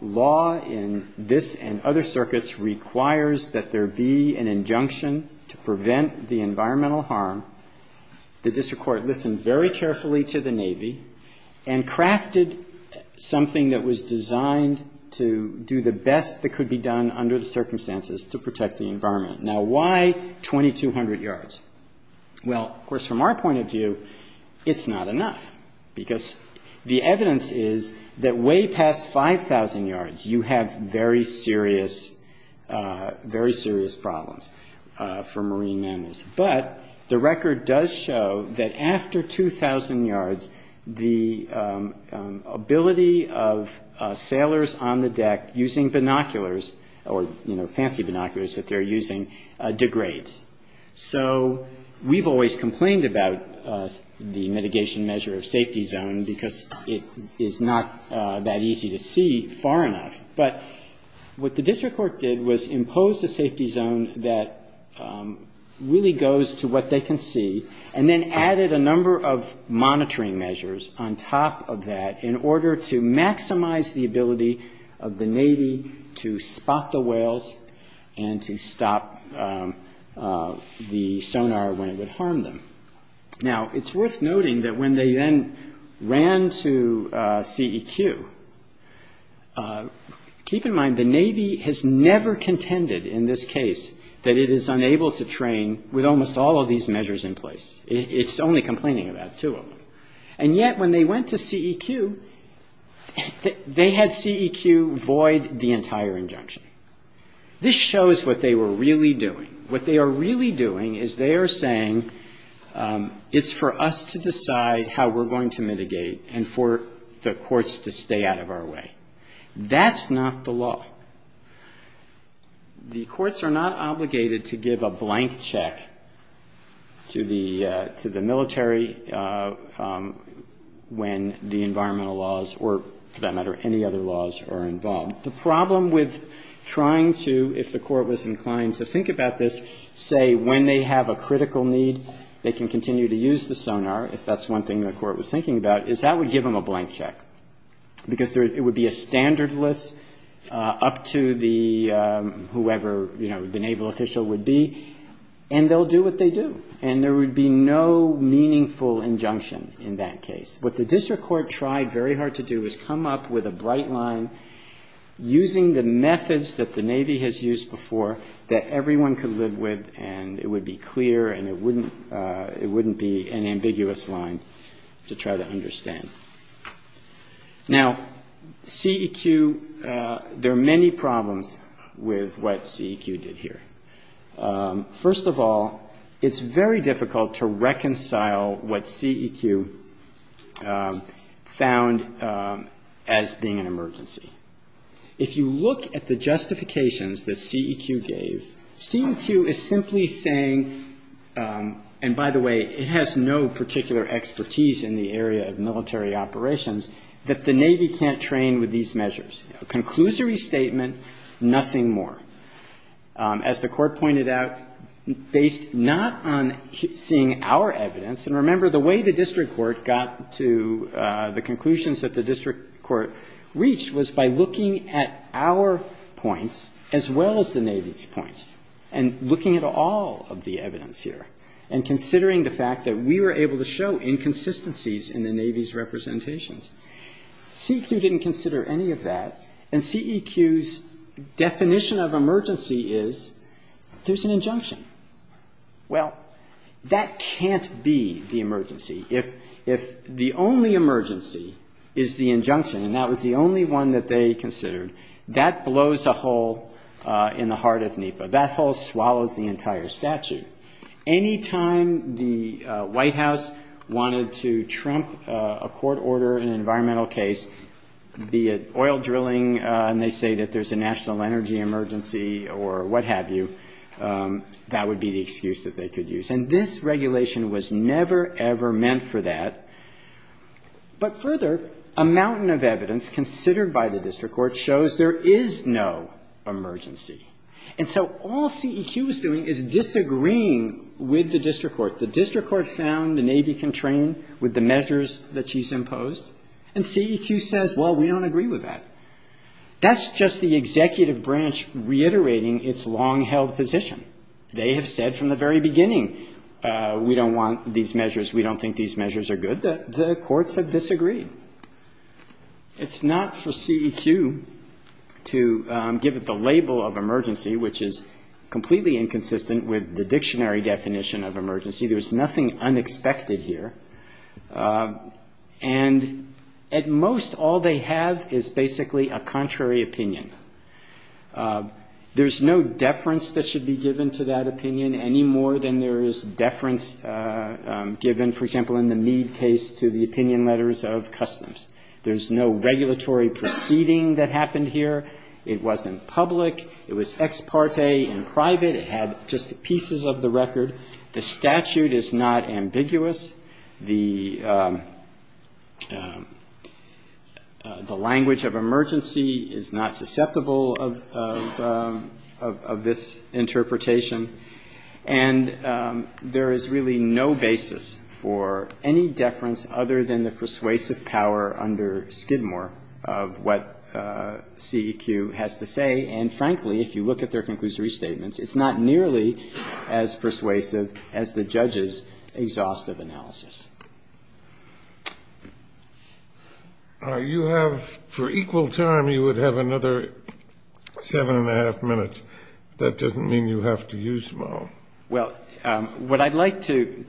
law in this and other circuits requires that there be an injunction to prevent the environmental harm. The district court listened very carefully to the Navy and crafted something that was designed to do the best that could be done under the circumstances to protect the environment. Now, why 2200 yards? Well, of course, from our point of view, it's not enough, because the evidence is that way past 5000 yards, you have very serious problems for marine mammals. But the record does show that after 2000 yards, the ability of sailors on the deck using binoculars, or fancy binoculars that they're using, degrades. So we've always complained about the mitigation measure of safety zone because it is not that easy to see far enough. But what the district court did was impose a safety zone that really goes to what they can see, and then added a number of monitoring measures on top of that in order to maximize the ability of the Navy to spot the whales and to stop the sonar when it would harm them. Now, it's worth noting that when they then ran to CEQ, keep in mind the Navy has never contended in this case that it is unable to train with almost all of these measures in place. It's only complaining about two of them. And yet, when they went to CEQ, they had CEQ void the entire injunction. This shows what they were really doing. What they are really doing is they are saying, it's for us to decide how we're going to mitigate and for the courts to stay out of our way. That's not the law. The courts are not obligated to give a blank check to the military when the environmental laws, or for that matter, any other laws are involved. The problem with trying to, if the court was inclined to think about this, say when they have a critical need, they can continue to use the sonar, if that's one thing the court was thinking about, is that would give them a blank check. Because it would be a standard list up to whoever the naval official would be, and they'll do what they do. And there would be no meaningful injunction in that case. What the district court tried very hard to do is come up with a bright line using the methods that the Navy has used before that everyone could live with, and it would be clear and it wouldn't be an ambiguous line to try to understand. Now, CEQ, there are many problems with what CEQ did here. First of all, it's very difficult to reconcile what CEQ found as being an emergency. If you look at the justifications that CEQ gave, CEQ is simply saying, and by the way, it has no particular expertise in the area of military operations, that the Navy can't train with these measures. Conclusory statement, nothing more. As the court pointed out, based not on seeing our evidence, and remember the way the district court got to the conclusions that the district court reached was by looking at our points as well as the Navy's points, and looking at all of the evidence here, and considering the fact that we were able to show inconsistencies in the Navy's representations. CEQ didn't consider any of that, and CEQ's definition of emergency is, there's an injunction. Well, that can't be the emergency. If the only emergency is the injunction, and that was the only one that they considered, that blows a hole in the heart of NEPA. That hole swallows the entire statute. Anytime the White House wanted to trump a court order in an environmental case, be it oil drilling, and they say that there's a national energy emergency, or what have you, that would be the excuse that they could use. And this regulation was never, ever meant for that. But further, a mountain of evidence considered by the district court shows there is no emergency. And so all CEQ is doing is disagreeing with the district court. The district court found the Navy can train with the measures that she's imposed, and CEQ says, well, we don't agree with that. That's just the executive branch reiterating its long-held position. They have said from the very beginning, we don't want these measures, we don't think these measures are good, that the courts have disagreed. It's not for CEQ to give it the label of emergency, which is completely inconsistent with the dictionary definition of emergency. There's nothing unexpected here. And at most, all they have is basically a contrary opinion. There's no deference that should be given to that opinion, any more than there is deference given, for example, in the need case to the opinion letters of customs. There's no regulatory proceeding that happened here. It wasn't public. It was ex parte in private. It had just pieces of the record. The statute is not ambiguous. The language of emergency is not susceptible of this interpretation. And there is really no basis for any deference, other than the persuasive power under Skidmore of what CEQ has to say. And frankly, if you look at their conclusionary statements, it's not nearly as persuasive as the judge's exhaustive analysis. You have, for equal time, you would have another seven and a half minutes. That doesn't mean you have to use them all. Well, what I'd like to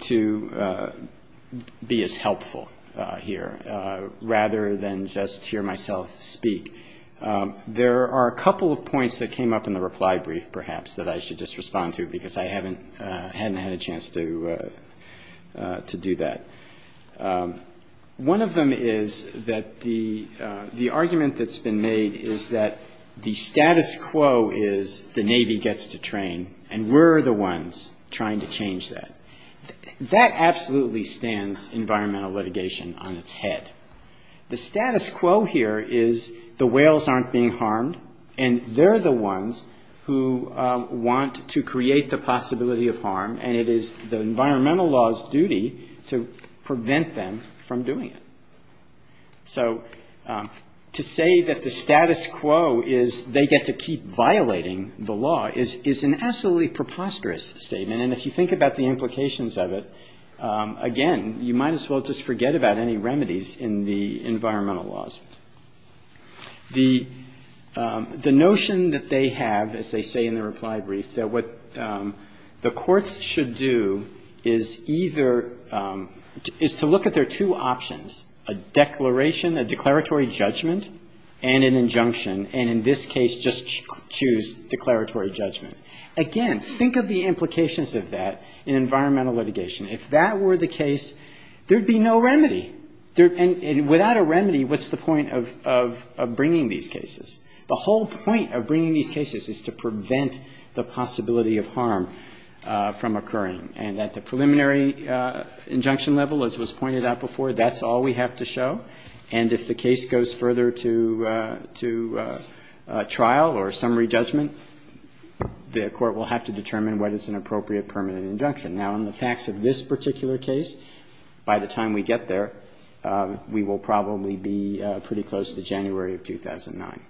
be is helpful here, rather than just hear myself speak. There are a couple of points that came up in the reply brief, perhaps, that I should just respond to because I hadn't had a chance to do that. One of them is that the argument that's been made is that the status quo is the Navy gets to train, and we're the ones trying to change that. That absolutely stands environmental litigation on its head. The status quo here is the whales aren't being harmed, and they're the ones who want to create the possibility of harm, and it is the environmental law's duty to prevent them from doing it. So to say that the status quo is they get to keep violating the law is an absolutely preposterous statement, and if you think about the implications of it, again, you might as well just forget about any remedies in the environmental laws. The notion that they have, as they say in the reply brief, is that what the courts should do is to look at their two options, a declaration, a declaratory judgment, and an injunction, and in this case, just choose declaratory judgment. Again, think of the implications of that in environmental litigation. If that were the case, there'd be no remedy, and without a remedy, what's the point of bringing these cases? The whole point of bringing these cases is to prevent the possibility of harm from occurring, and at the preliminary injunction level, as was pointed out before, that's all we have to show, and if the case goes further to trial or summary judgment, the court will have to determine what is an appropriate permanent injunction. Now, in the facts of this particular case, by the time we get there, we will probably be pretty close to January of 2009.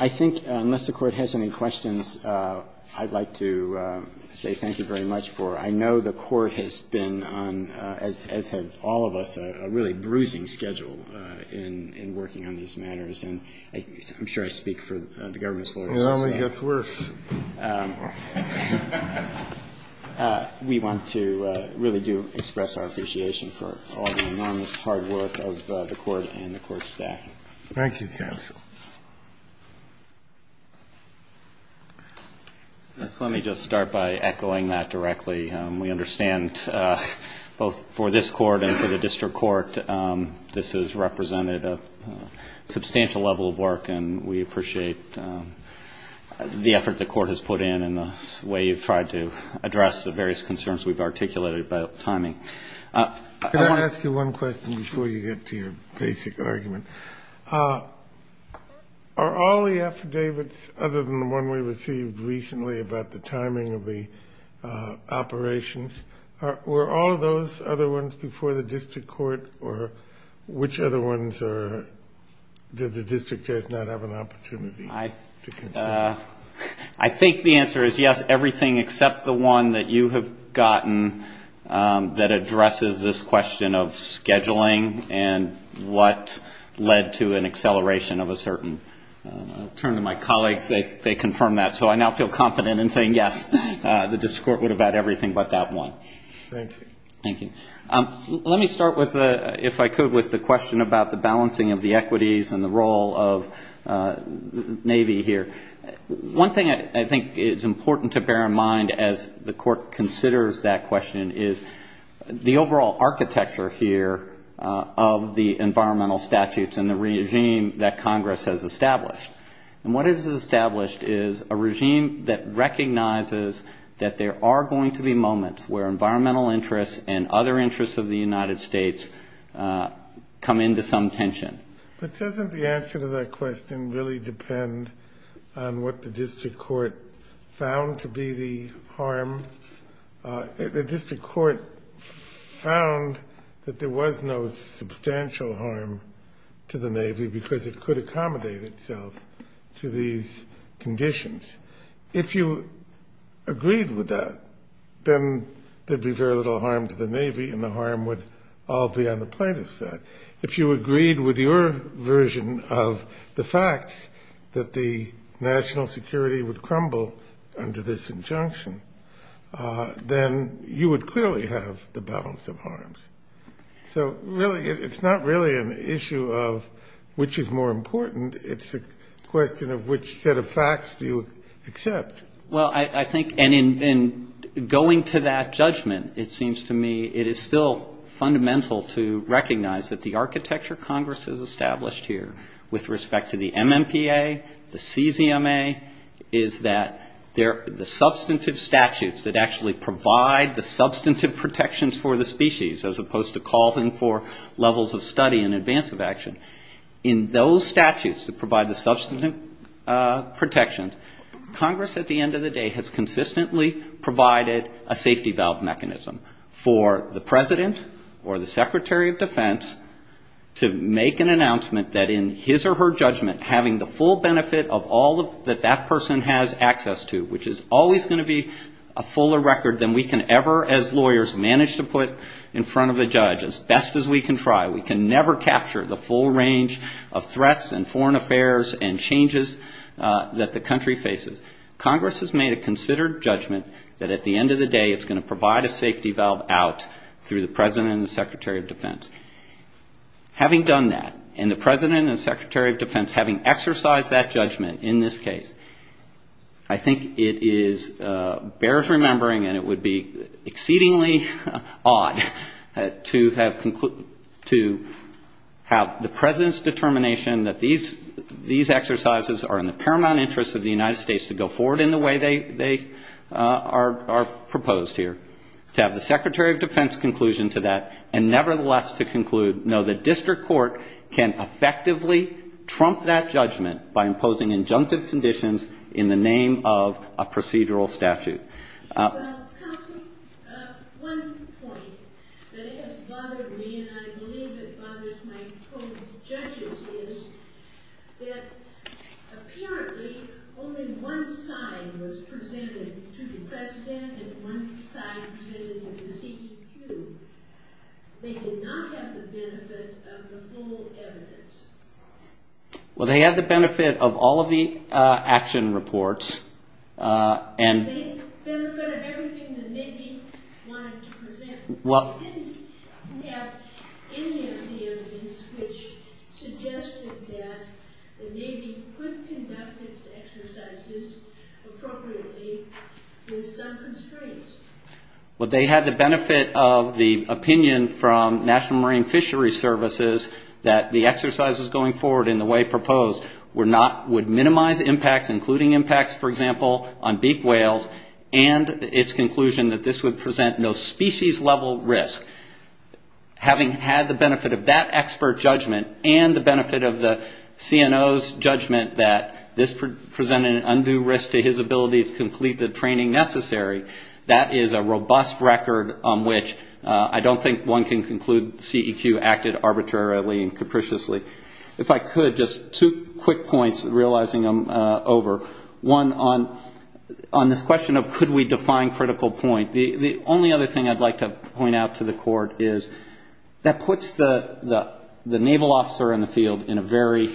I think, unless the Court has any questions, I'd like to say thank you very much for, I know the Court has been on, as has all of us, a really bruising schedule in working on these matters, and I'm sure I speak for the government's full responsibility. Well, I'm going to get worse. We want to really do express our appreciation for all the enormous hard work of the Court and the Court staff. Thank you, counsel. Let me just start by echoing that directly. We understand, both for this Court and for the District Court, this has represented a substantial level of work, and we appreciate the effort the Court has put in and the way you've tried to address the various concerns we've articulated about timing. Can I ask you one question before you get to your basic argument? Are all the affidavits, other than the one we received recently, about the timing of the operations, were all those other ones before the District Court, or which other ones does the District Court not have an opportunity to consider? I think the answer is yes, everything except the one that you have gotten that addresses this question of scheduling and what led to an acceleration of a certain, I'll turn to my colleagues, they confirmed that, so I now feel confident in saying yes, the District Court would have had everything but that one. Thank you. Let me start, if I could, with the question about the balancing of the equities and the role of Navy here. One thing I think is important to bear in mind as the Court considers that question is the overall architecture here of the environmental statutes and the regime that Congress has established. What it has established is a regime that recognizes that there are going to be moments where environmental interests and other interests of the United States come into some tension. But doesn't the answer to that question really depend on what the District Court found to be the harm? The District Court found that there was no substantial harm to the Navy because it could accommodate itself to these conditions. If you agreed with that, then there'd be very little harm to the Navy and the harm would all be on the plaintiff's side. If you agreed with your version of the facts, that the national security would crumble under this injunction, then you would clearly have the balance of harms. So really, it's not really an issue of which is more important, it's a question of which set of facts you accept. Well, I think in going to that judgment, it seems to me it is still fundamental to recognize that the architecture Congress has established here with respect to the MMPA, the CZMA, is that the substantive statutes that actually provide the substantive protections for the species as opposed to calling for levels of study and advance of action. In those statutes that provide the substantive protections, Congress, at the end of the day, has consistently provided a safety valve mechanism for the President or the Secretary of Defense to make an announcement that in his or her judgment, having the full benefit of all that that person has access to, which is always going to be a fuller record than we can ever, as lawyers, manage to put in front of a judge, as best as we can try. We can never capture the full range of threats and foreign affairs and changes that the country faces. Congress has made a considered judgment that at the end of the day, it's going to provide a safety valve out through the President and the Secretary of Defense. Having done that, and the President and the Secretary of Defense having exercised that judgment in this case, I think it bears remembering, and it would be exceedingly odd to have the President's determination that these exercises are in the paramount interest of the United States to go forward in the way they are proposed here, to have the Secretary of Defense's conclusion to that, and nevertheless to conclude, no, the district court can effectively trump that judgment by imposing injunctive conditions in the name of a procedural statute. Counsel, one point that has bothered me, and I believe it bothers my co-judges, is that apparently only one side was presented to the President, and one side presented to the DQ. They did not have the benefit of the full evidence. Well, they had the benefit of all of the action reports. And they verified everything the Navy wanted to present, but they didn't have any of the evidence which suggested that the Navy could conduct its exercises appropriately with some constraints. Well, they had the benefit of the opinion from National Marine Fisheries Services that the exercises going forward in the way proposed would minimize impacts, including impacts, for example, on deep whales, and its conclusion that this would present no species-level risk. Having had the benefit of that expert judgment and the benefit of the CNO's judgment that this presented an undue risk to his ability to complete the training necessary, that is a robust record on which I don't think one can conclude CEQ acted arbitrarily and capriciously. If I could, just two quick points, realizing I'm over. One, on the question of could we define critical point, the only other thing I'd like to point out to the Court is that puts the Naval officer in the field in a very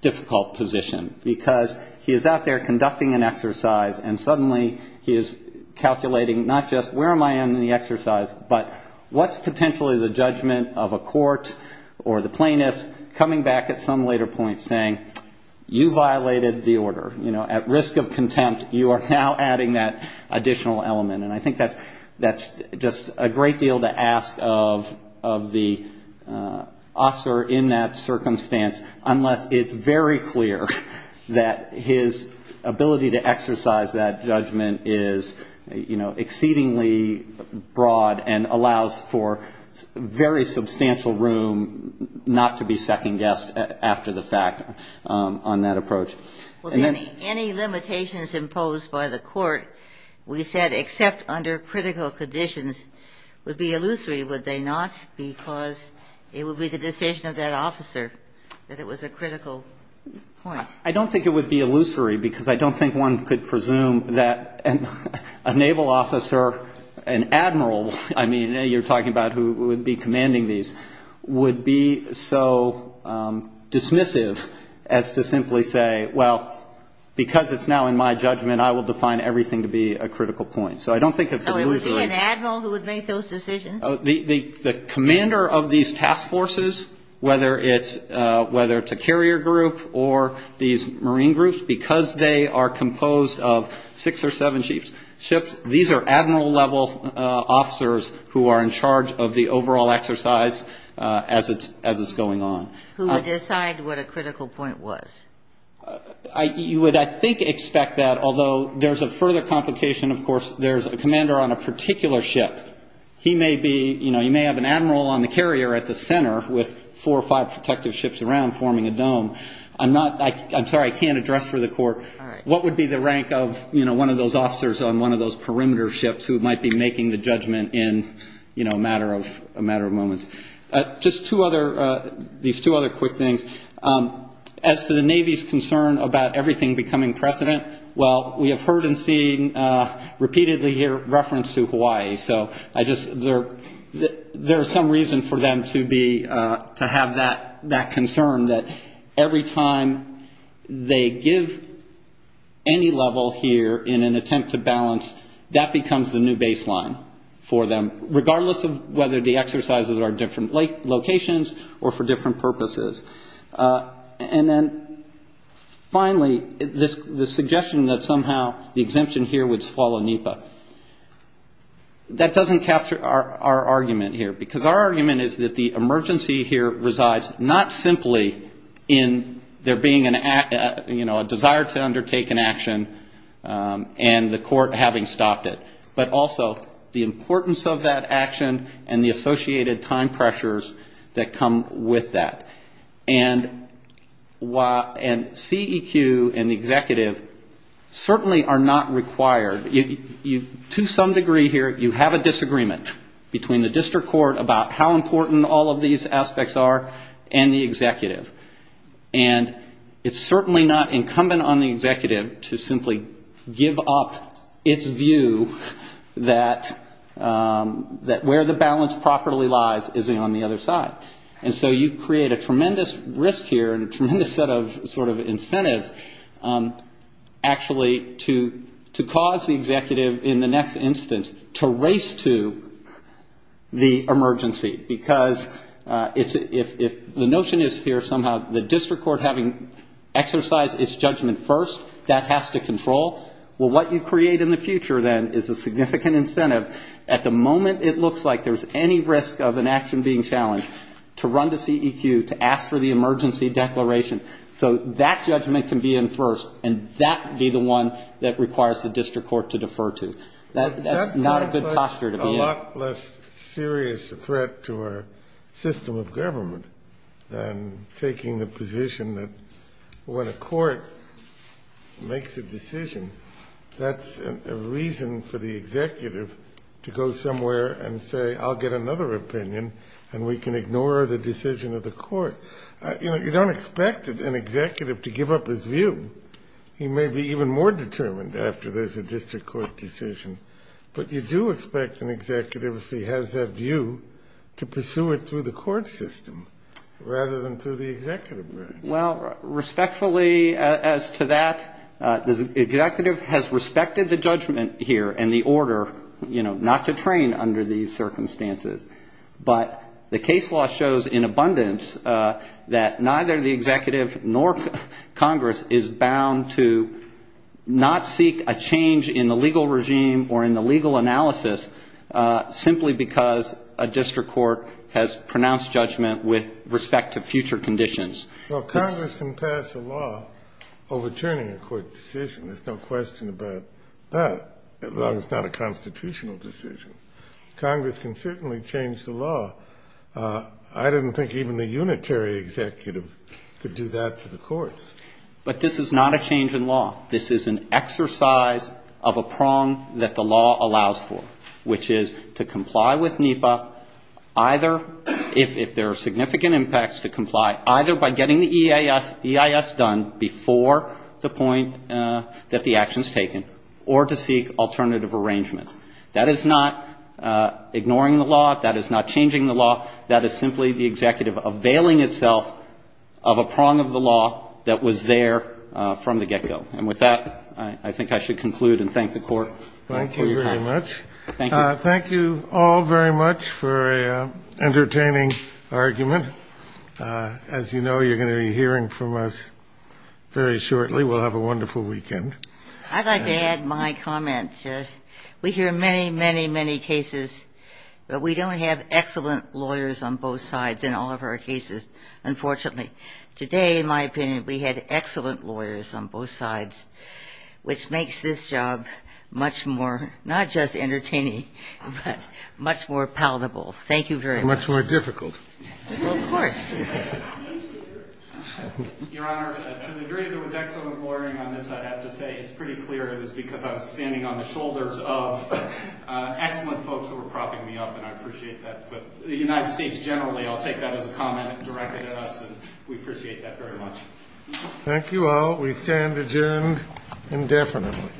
difficult position because he is out there conducting an exercise, and suddenly he is calculating not just where am I in the exercise, but what's potentially the judgment of a court or the plaintiff coming back at some later point saying, you violated the order. At risk of contempt, you are now adding that additional element, and I think that's just a great deal to ask of the officer in that circumstance, unless it's very clear that his ability to exercise that judgment is exceedingly broad and allows for very substantial room not to be second-guessed after the fact on that approach. Any limitations imposed by the Court, we said except under critical conditions, would be illusory, would they not? Because it would be the decision of that officer that it was a critical point. I don't think it would be illusory because I don't think one could presume that a Naval officer, an admiral, I mean, you're talking about who would be commanding these, would be so dismissive as to simply say, well, because it's now in my judgment, I will define everything to be a critical point. So I don't think it's illusory. So it would be an admiral who would make those decisions? The commander of these task forces, whether it's a carrier group or these marine groups, because they are composed of six or seven ships, these are admiral-level officers who are in charge of the overall exercise as it's going on. Who would decide what a critical point was? You would, I think, expect that, although there's a further complication, of course. There's a commander on a particular ship. He may be, you know, you may have an admiral on the carrier at the center with four or five protective ships around forming a dome. I'm not, I'm sorry, I can't address for the court. What would be the rank of, you know, one of those officers on one of those perimeter ships who might be making the judgment in, you know, a matter of moments? Just two other, these two other quick things. As to the Navy's concern about everything becoming precedent, well, we have heard and seen repeatedly here reference to Hawaii. So I just, there's some reason for them to be, to have that concern that every time they give any level here in an attempt to balance, that becomes the new baseline for them, regardless of whether the exercises are different locations or for different purposes. And then finally, the suggestion that somehow the exemption here would swallow NEPA. That doesn't capture our argument here, because our argument is that the emergency here resides not simply in there being, you know, a desire to undertake an action and the court having stopped it, but also the importance of that action and the associated time pressures that come with that. And CEQ and the executive certainly are not required. To some degree here, you have a disagreement between the district court about how important all of these aspects are and the executive. And it's certainly not incumbent on the executive to simply give up its view that where the balance properly lies is on the other side. And so you create a tremendous risk here and a tremendous sort of incentive actually to cause the executive in the next instance to race to the emergency. Because if the notion is here somehow, the district court having exercised its judgment first, that has to control. Well, what you create in the future then is a significant incentive. At the moment, it looks like there's any risk of an action being challenged to run to CEQ to ask for the emergency declaration. So that judgment can be in first, and that would be the one that requires the district court to defer to. That's not a good posture to be in. And taking the position that when a court makes a decision, that's a reason for the executive to go somewhere and say, I'll get another opinion and we can ignore the decision of the court. You know, you don't expect an executive to give up his view. He may be even more determined after there's a district court decision. But you do expect an executive, if he has that view, to pursue it through the court system rather than through the executive branch. Well, respectfully as to that, the executive has respected the judgment here and the order, you know, not to train under these circumstances. But the case law shows in abundance that neither the executive nor Congress is bound to not seek a change in the legal regime or in the legal analysis simply because a district court has pronounced judgment with respect to future conditions. Well, Congress can pass a law overturning a court decision. There's no question about that, as long as it's not a constitutional decision. Congress can certainly change the law. I didn't think even a unitary executive could do that to the court. But this is not a change in law. This is an exercise of a prong that the law allows for, which is to comply with NEPA either if there are significant impacts to comply, either by getting the EIS done before the point that the action is taken or to seek alternative arrangements. That is not ignoring the law. That is not changing the law. That is simply the executive availing itself of a prong of the law that was there from the get-go. And with that, I think I should conclude and thank the court. Thank you very much. Thank you all very much for an entertaining argument. As you know, you're going to be hearing from us very shortly. We'll have a wonderful weekend. I'd like to add my comments. We hear many, many, many cases, but we don't have excellent lawyers on both sides in all of our cases, unfortunately. Today, in my opinion, we had excellent lawyers on both sides, which makes this job much more not just entertaining but much more palatable. Thank you very much. Much more difficult. Of course. Your Honor, to the degree there was excellent lawyering on this, I have to say it's pretty clear it was because I was standing on the shoulders of excellent folks who were propping me up, and I appreciate that. But the United States generally, I'll take that as a comment directed at us, and we appreciate that very much. Thank you all. We stand adjourned indefinitely.